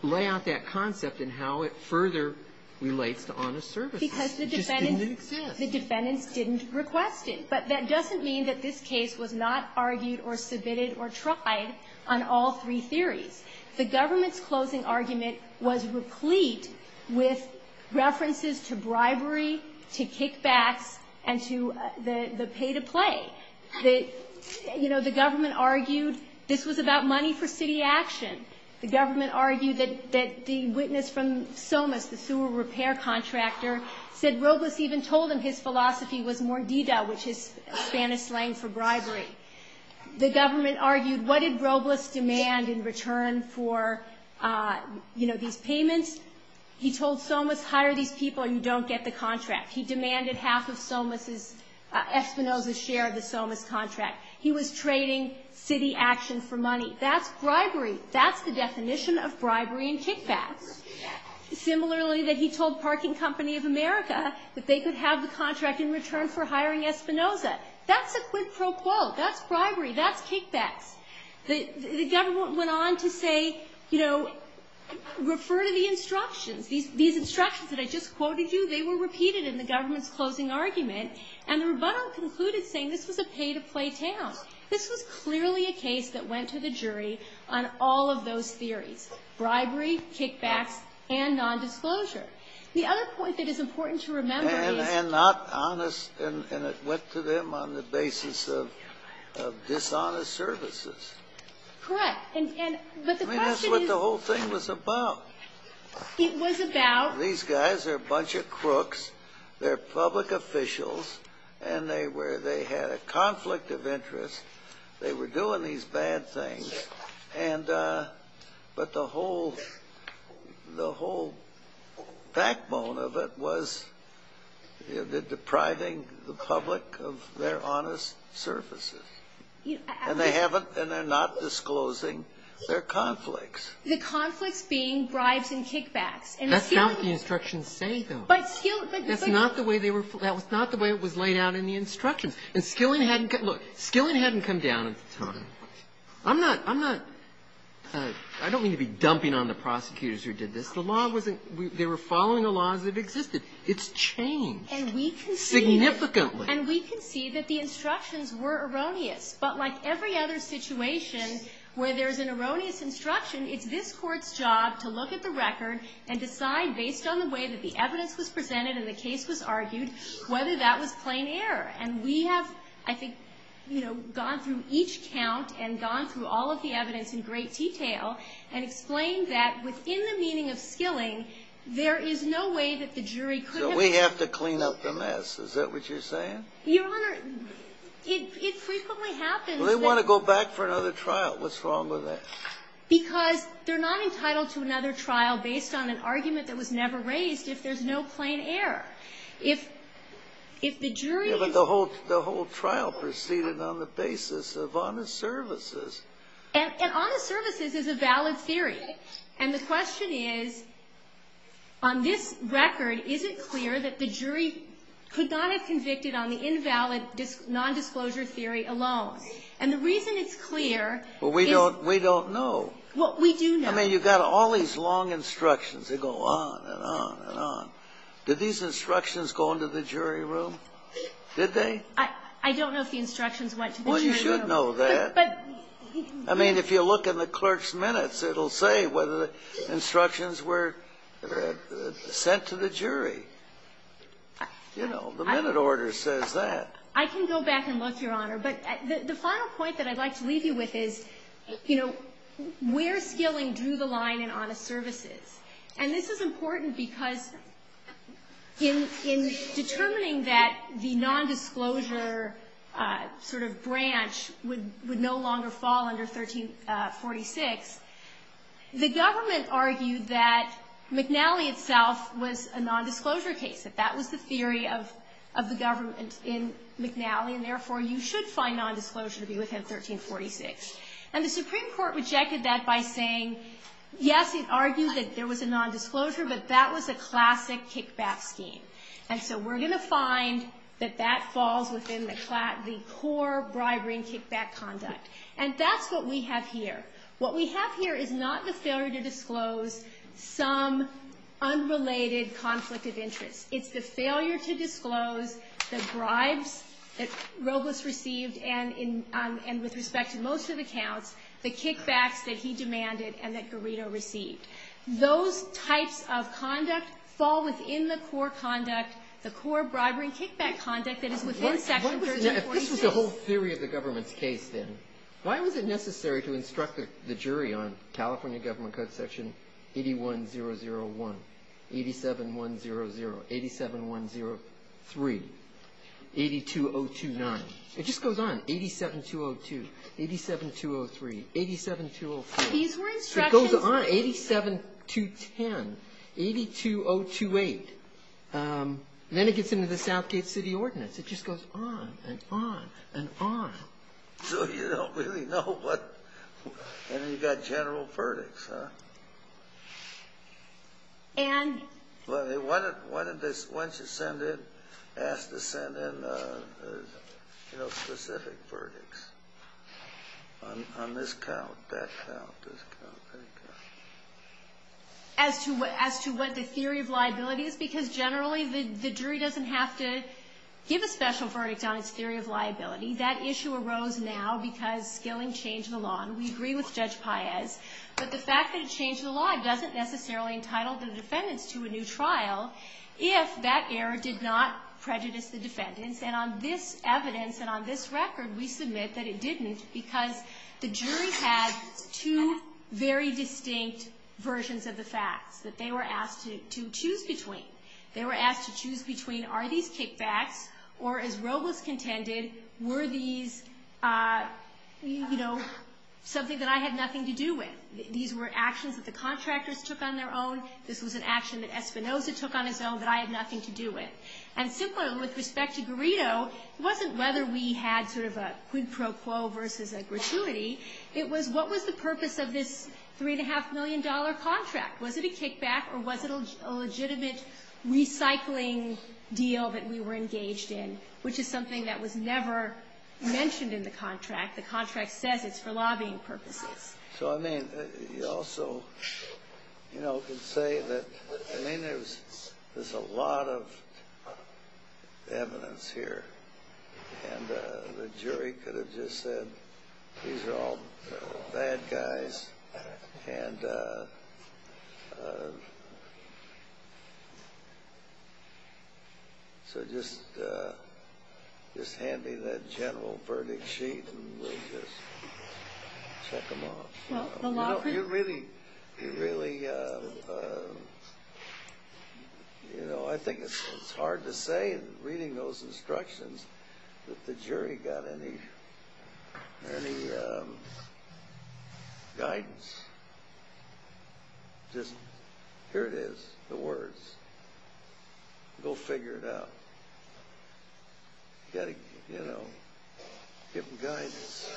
lay out that concept and how it further relates to honest service. Because the defendants didn't request it. But that doesn't mean that this case was not argued or submitted or tried on all three theories. The government's closing argument was replete with references to bribery, to kickback, and to the pay-to-play. You know, the government argued this was about money for city action. The government argued that the witness from Somos, the sewer repair contractor, said Robles even told him his philosophy was mordida, which is Spanish slang for bribery. The government argued what did Robles demand in return for, you know, these payments. He told Somos, hire these people and you don't get the contract. He demanded half of Somos' Espinosa share of the Somos contract. He was trading city action for money. That's bribery. That's the definition of bribery and kickback. Similarly, that he told Parking Company of America that they could have the contract in return for hiring Espinosa. That's the quid pro quo. That's bribery. That's kickback. The government went on to say, you know, refer to the instructions. These instructions that I just quoted you, they were repeated in the government's closing argument, and the rebuttal concluded saying this was a pay-to-play tale. This was clearly a case that went to the jury on all of those theories, bribery, kickback, and nondisclosure. The other point that is important to remember is – And not honest, and it went to them on the basis of dishonest services. Correct. I mean, that's what the whole thing was about. It was about – These guys are a bunch of crooks. They're public officials, and they had a conflict of interest. They were doing these bad things, but the whole backbone of it was depriving the public of their honest services, and they're not disclosing their conflicts. The conflicts being bribes and kickbacks. That's not what the instructions say, though. That's not the way it was laid out in the instructions. And Skilling hadn't – look, Skilling hadn't come down at the time. I'm not – I don't mean to be dumping on the prosecutors who did this. The law wasn't – they were following the laws that existed. It's changed significantly. And we can see that the instructions were erroneous, but like every other situation where there's an erroneous instruction, it's this court's job to look at the record and decide, based on the way that the evidence was presented and the case was argued, whether that was plain error. And we have, I think, gone through each count and gone through all of the evidence in great detail and explained that within the meaning of Skilling, there is no way that the jury could have – So we have to clean up the mess. Is that what you're saying? Your Honor, it frequently happens that – Well, they want to go back for another trial. What's wrong with that? Because they're not entitled to another trial based on an argument that was never raised if there's no plain error. If the jury – Yeah, but the whole trial proceeded on the basis of honest services. And honest services is a valid theory. And the question is, on this record, is it clear that the jury could not have convicted on the invalid nondisclosure theory alone? And the reason it's clear is – Well, we don't know. Well, we do know. I mean, you've got all these long instructions that go on and on and on. Did these instructions go into the jury room? Did they? I don't know if the instructions went to the jury room. Well, you should know that. I mean, if you look in the clerk's minutes, it'll say whether the instructions were sent to the jury. You know, the minute order says that. I can go back and look, Your Honor. But the final point that I'd like to leave you with is, you know, we're dealing through the line in honest services. And this is important because in determining that the nondisclosure sort of branch would no longer fall under 1346, the government argued that McNally itself was a nondisclosure case. That was the theory of the government in McNally, and therefore you should find nondisclosure to be within 1346. And the Supreme Court rejected that by saying, yes, it argued that there was a nondisclosure, but that was a classic kickback scheme. And so we're going to find that that falls within the core bribery and kickback conduct. And that's what we have here. What we have here is not the failure to disclose some unrelated conflict of interest. It's the failure to disclose the bribes that Robles received, and with respect to most of the counts, the kickback that he demanded and that Guerrero received. Those types of conduct fall within the core conduct, the core bribery and kickback conduct that is within section 1342. This is the whole theory of the government's case, then. Why was it necessary to instruct the jury on California Government Code section 81001, 87100, 87103, 82029? It just goes on. 87202, 87203, 87207. These were instructions. It goes on. 87210, 82028. Then it gets into the Southgate City Ordinance. It just goes on and on and on. So you don't really know what – and then you've got general verdicts, huh? Why didn't they ask to send in specific verdicts on this count, that count, this count, that count? As to what the theory of liability is, because generally the jury doesn't have to give a special verdict on its theory of liability. That issue arose now because Skilling changed the law. And we agree with Judge Paez. But the fact that it changed the law doesn't necessarily entitle the defendants to a new trial if that error did not prejudice the defendants. And on this evidence and on this record, we submit that it didn't because the jury had two very distinct versions of the facts that they were asked to choose between. They were asked to choose between, are these kickbacks, or as Roe was contended, were these, you know, something that I had nothing to do with? These were actions that the contractors took on their own. This was an action that Espinoza took on his own that I had nothing to do with. And similarly, with respect to Grito, it wasn't whether we had sort of a quid pro quo versus a gratuity. It was what was the purpose of this $3.5 million contract? Was it a kickback or was it a legitimate recycling deal that we were engaged in, which is something that was never mentioned in the contract? The contract says it's for lobbying purposes. So, I mean, also, you know, to say that, I mean, there's a lot of evidence here. And the jury could have just said these are all bad guys. And so just hand me that general verdict sheet and we'll just check them off. Well, you really, you know, I think it's hard to say, reading those instructions, that the jury got any guidance. Just, here it is, the words. Go figure it out. You know, get guidance.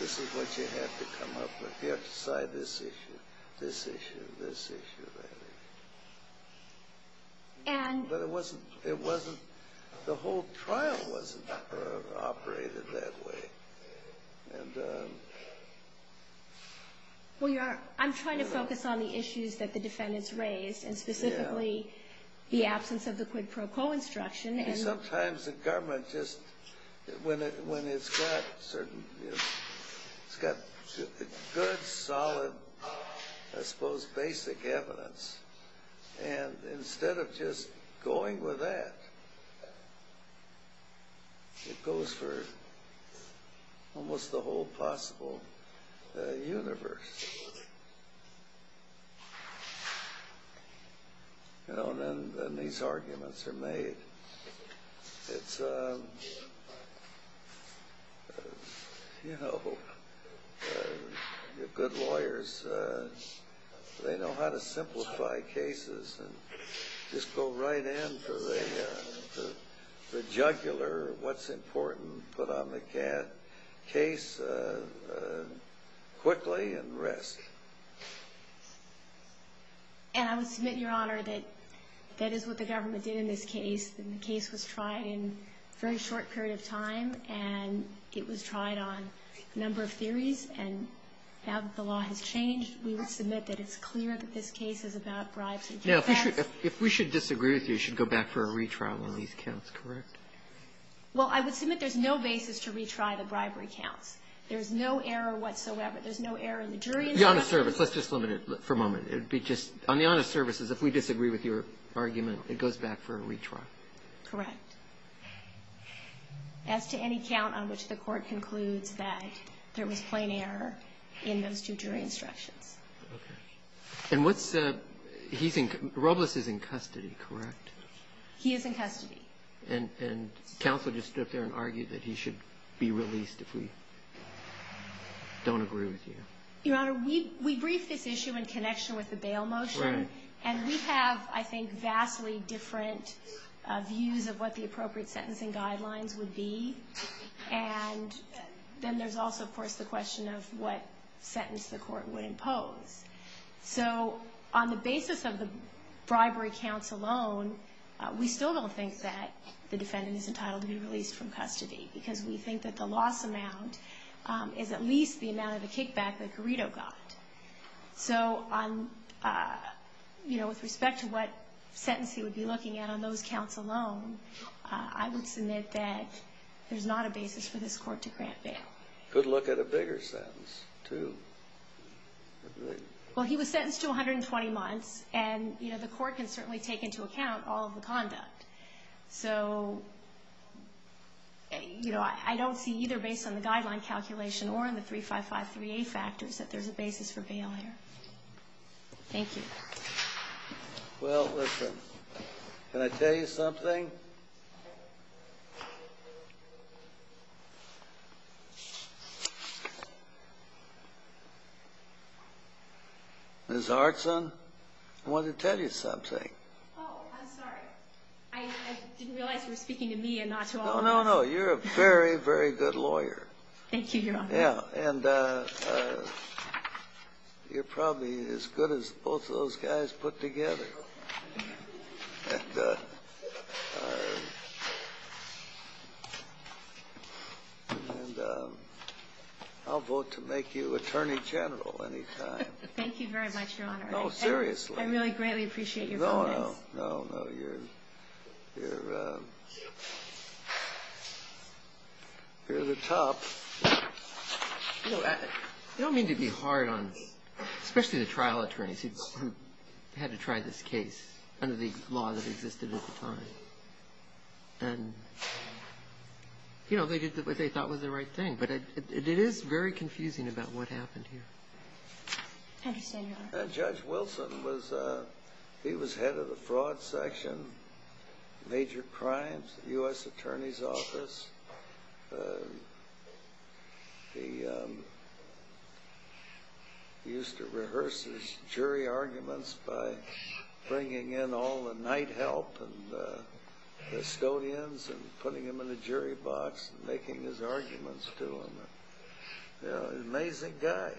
This is what you have to come up with. You have to decide this issue, this issue, this issue. But it wasn't, the whole trial wasn't operated that way. Well, I'm trying to focus on the issues that the defendants raised and specifically the absence of the quid pro quo instruction. Sometimes the government just, when it's got certain, it's got good, solid, I suppose, basic evidence, and instead of just going with that, it goes for almost the whole possible universe. You know, and then these arguments are made. It's, you know, good lawyers, they know how to simplify cases and just go right in for the jugular, what's important, put on the case quickly and rest. And I would submit, Your Honor, that that is what the government did in this case, and the case was tried in a very short period of time, and it was tried on a number of theories, and now that the law has changed, we would submit that it's clear that this case is about bribes and suspects. Now, if we should disagree with you, you should go back for a retrial on these counts, correct? Well, I would submit there's no basis to retry the bribery count. There's no error whatsoever. Let's just limit it for a moment. It would be just, on the honest services, if we disagree with your argument, it goes back for a retrial. Correct. As to any count on which the court concludes that there was plain error in those two jury instructions. Okay. And what's, he's in, Robles is in custody, correct? He is in custody. And counsel just stood there and argued that he should be released if we don't agree with you. Your Honor, we briefed this issue in connection with the bail motion. Right. And we have, I think, vastly different views of what the appropriate sentencing guidelines would be. And then there's also, of course, the question of what sentence the court would impose. So, on the basis of the bribery counts alone, we still don't think that the defendant is entitled to be released from custody because we think that the loss amount is at least the amount of the kickback that Garrido got. So, on, you know, with respect to what sentence he would be looking at on those counts alone, I would submit that there's not a basis for this court to grant bail. Could look at a bigger sentence, too. Well, he was sentenced to 120 months, and, you know, the court can certainly take into account all of the conduct. So, you know, I don't see, either based on the guidelines calculation or on the 35538 factors, that there's a basis for bail here. Thank you. Well, listen, can I tell you something? Ms. Artson, I wanted to tell you something. Oh, I'm sorry. I didn't realize you were speaking to me and not to all of us. No, no, no. You're a very, very good lawyer. Thank you, Your Honor. Yeah, and you're probably as good as both of those guys put together. And I'll vote to make you Attorney General any time. Thank you very much, Your Honor. No, seriously. I really, greatly appreciate your vote. No, no. No, no. You're the top. You know, I don't mean to be hard on, especially the trial attorneys who had to try this case under the law that existed at the time. And, you know, they did what they thought was the right thing, but it is very confusing about what happened here. Thank you, Your Honor. And Judge Wilson, he was head of the Fraud Section, Major Crimes, U.S. Attorney's Office. He used to rehearse his jury arguments by bringing in all the night help and custodians and putting them in the jury box and making his arguments to them. You know, an amazing guy.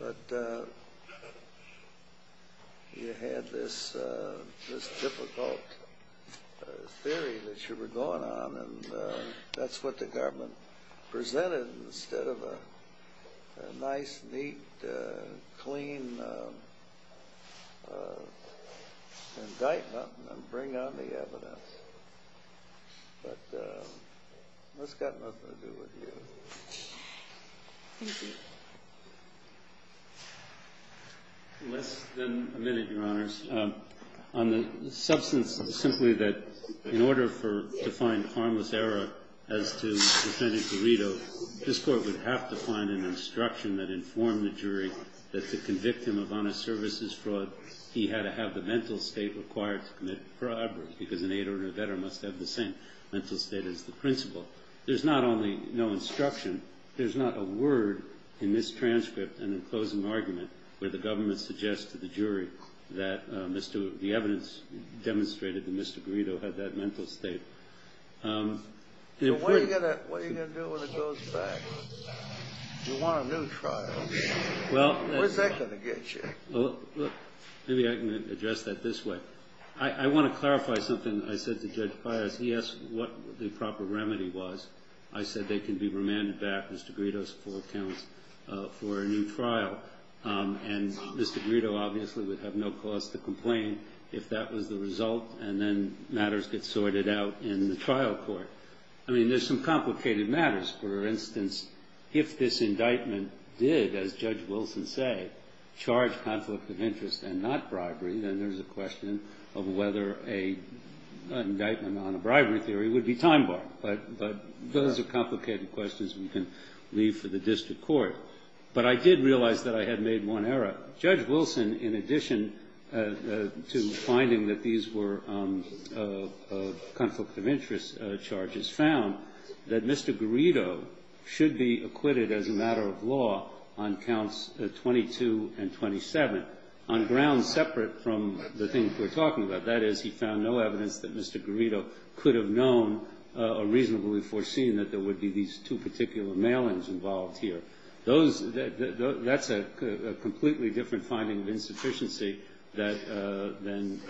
But you had this difficult theory that you were going on, and that's what the government presented instead of a nice, neat, clean indictment and bring on the evidence. But that's got nothing to do with you. Thank you. Well, it's been a minute, Your Honors. On the substance of simply that in order to find harmless error as to defendant's aledo, this court would have to find an instruction that informed the jury that to convict him of honest services fraud, he had to have the mental state required to commit fraud because an aider and a veteran must have the same mental state as the principal. There's not only no instruction. There's not a word in this transcript and in the closing argument where the government suggests to the jury that the evidence demonstrated that Mr. Guido had that mental state. So what are you going to do when it goes back? You want a new trial. Where's that going to get you? Maybe I can address that this way. I want to clarify something I said to Judge Pius. He asked what the proper remedy was. I said they can be remanded back, Mr. Guido's four counts, for a new trial. And Mr. Guido obviously would have no cause to complain if that was the result and then matters get sorted out in the trial court. I mean, there's some complicated matters. For instance, if this indictment did, as Judge Wilson said, charge conflict of interest and not bribery, then there's a question of whether an indictment on bribery theory would be time-bound. But those are complicated questions we can leave to the district court. But I did realize that I had made one error. Judge Wilson, in addition to finding that these were conflict of interest charges, found that Mr. Guido should be acquitted as a matter of law on counts 22 and 27, on grounds separate from the things we're talking about. That is, he found no evidence that Mr. Guido could have known or reasonably foreseen that there would be these two particular mailings involved here. That's a completely different finding of insufficiency than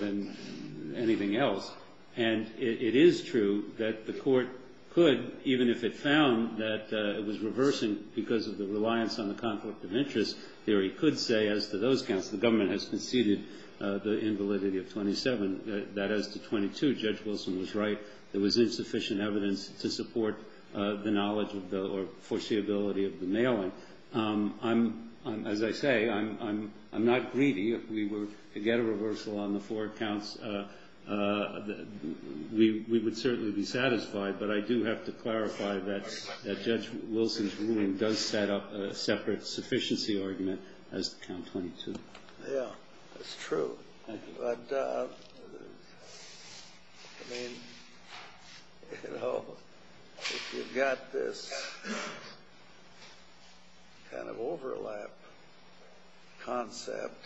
anything else. And it is true that the court could, even if it found that it was reversing because of the reliance on the conflict of interest theory, could say, as to those counts, the government has conceded the invalidity of 27, that as to 22, Judge Wilson was right. There was insufficient evidence to support the knowledge or foreseeability of the mailing. As I say, I'm not greedy. If we were to get a reversal on the four counts, we would certainly be satisfied. But I do have to clarify that Judge Wilson's ruling does set up a separate sufficiency argument as to count 22. Yeah, that's true. But if you've got this kind of overlap concept,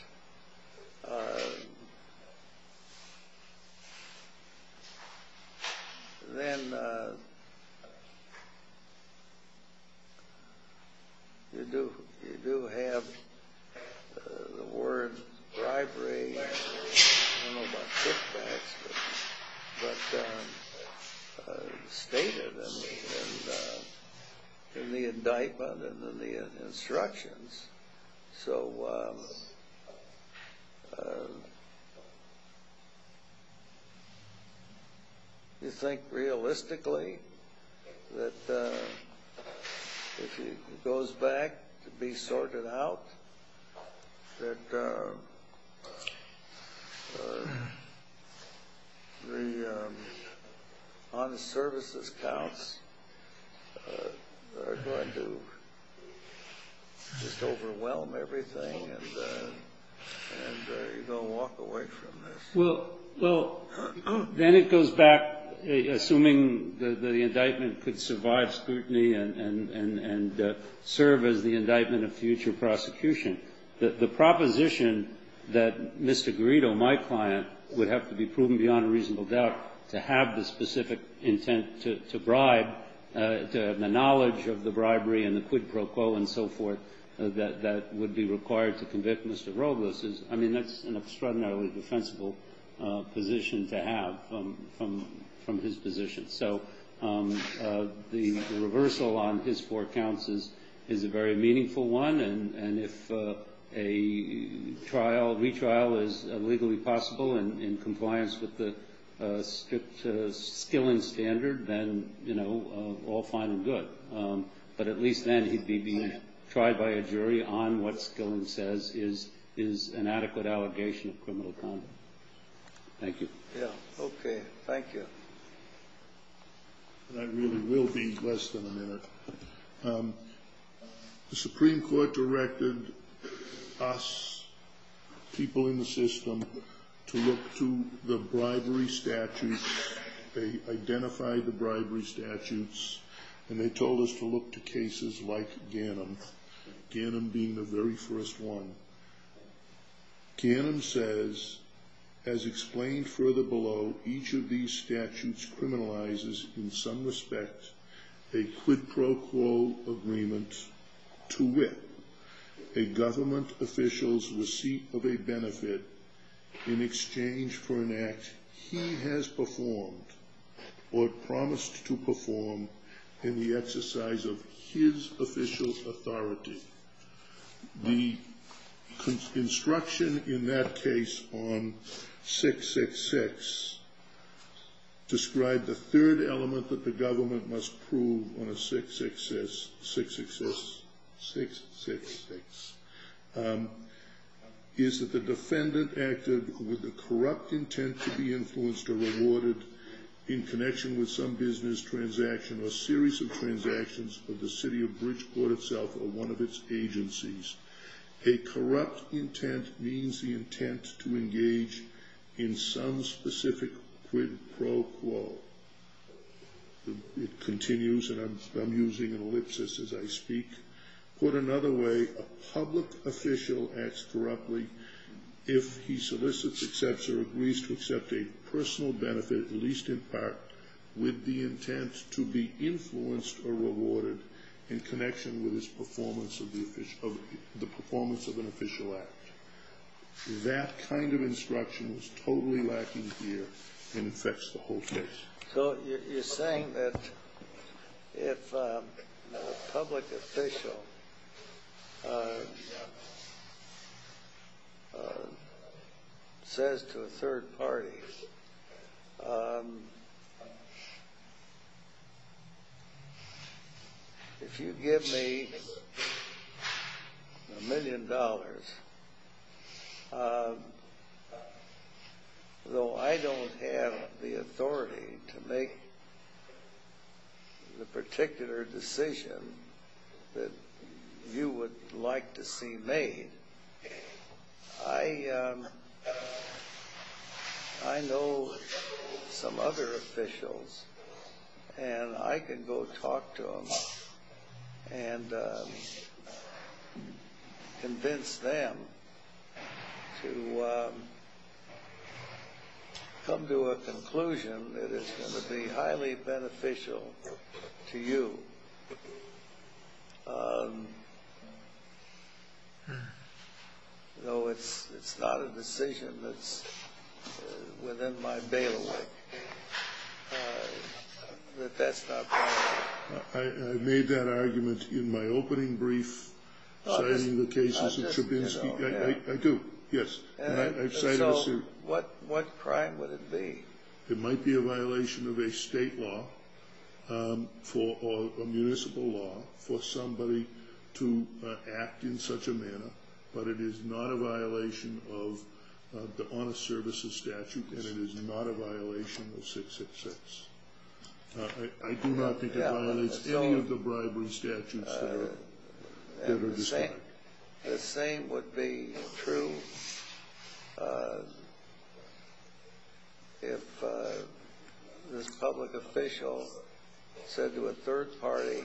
then you do have the word bribery and I don't know about kickbacks, but stated in the indictment and in the instructions. So you think realistically that if it goes back to be sorted out, Well, then it goes back, assuming that the indictment could survive scrutiny and serve as the indictment of future prosecution. The proposition that Mr. Guido, my client, would have to be proven beyond a reasonable doubt to have the specific intent to bribe, to have the knowledge of the bribery and the quid pro quo and so forth that would be required to convict Mr. Robles, I mean, that's an extraordinarily defensible position to have from his position. So the reversal on his four counts is a very meaningful one. And if a retrial is legally possible and in compliance with the Skilling standard, then all fine and good. But at least then he'd be tried by a jury on what Skilling says is an adequate allegation of criminal conduct. Thank you. Okay, thank you. I really will be less than a minute. The Supreme Court directed us, people in the system, to look to the bribery statutes. They identified the bribery statutes and they told us to look to cases like Ganim, Ganim being the very first one. Ganim says, as explained further below, each of these statutes criminalizes, in some respects, a quid pro quo agreement to wit, a government official's receipt of a benefit in exchange for an act he has performed or promised to perform in the exercise of his official authority. The construction in that case on 666 described the third element that the government must prove on a 666, is that the defendant acted with a corrupt intent to be influenced or rewarded in connection with some business transaction or series of transactions of the city of Bridgeport itself or one of its agencies. A corrupt intent means the intent to engage in some specific quid pro quo. It continues and I'm using an ellipsis as I speak. Put another way, a public official acts corruptly if he solicits, accepts, or agrees to accept a personal benefit, at least in part, with the intent to be influenced or rewarded in connection with his performance of an official act. That kind of instruction is totally lacking here and affects the whole case. So you're saying that if a public official says to a third party, if you give me a million dollars, though I don't have the authority to make the particular decision that you would like to see made, I know some other officials and I can go talk to them and convince them to come to a conclusion that is going to be highly beneficial to you. No, it's not a decision that's within my bailiwick. Let that stop there. I made that argument in my opening brief citing the cases of Trubinsky. I do, yes. So what crime would it be? It might be a violation of a state law or a municipal law for somebody to act in such a manner. But it is not a violation of the Honest Services statute and it is not a violation of 666. I do not think it violates any of the bribery statutes. The same would be true if this public official said to a third party,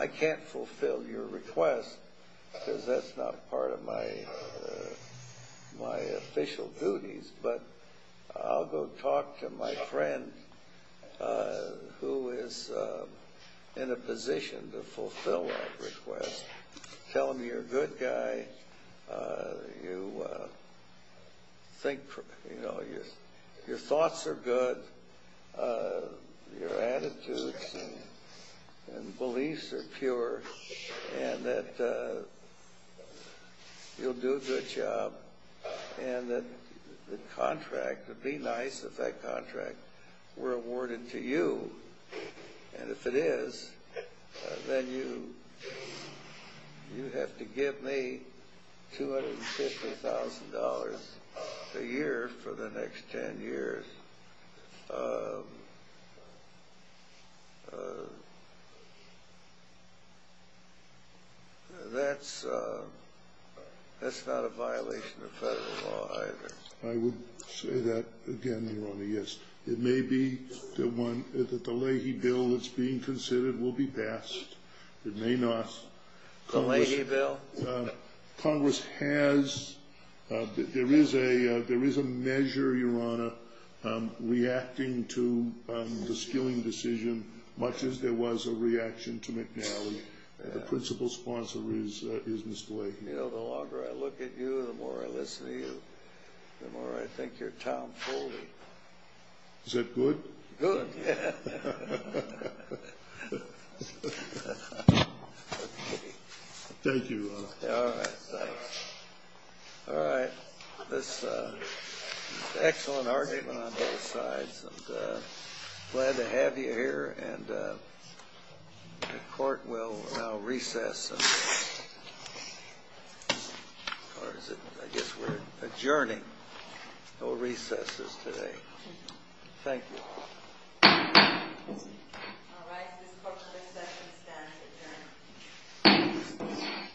I can't fulfill your request because that's not part of my official duties, but I'll go talk to my friend who is in a position to fulfill that request. Tell him you're a good guy, your thoughts are good, your attitudes and beliefs are pure, and that you'll do a good job. And that the contract, the D-nice of that contract were awarded to you. And if it is, then you have to give me $250,000 a year for the next 10 years. That's not a violation of federal law either. I would say that again, Your Honor, yes. It may be that the Leahy bill that's being considered will be passed. It may not. The Leahy bill? Well, Congress has, there is a measure, Your Honor, reacting to the stealing decision, much as there was a reaction to McNally, the principal sponsor is Mr. Leahy. You know, the longer I look at you, the more I listen to you, the more I think you're Tom Foley. Is that good? Good, yeah. Thank you, Your Honor. All right. All right. That's an excellent argument on both sides. I'm glad to have you here, and the Court will now recess. I guess we're adjourning. No recesses today. Thank you. All right. This court shall recess and stand adjourned.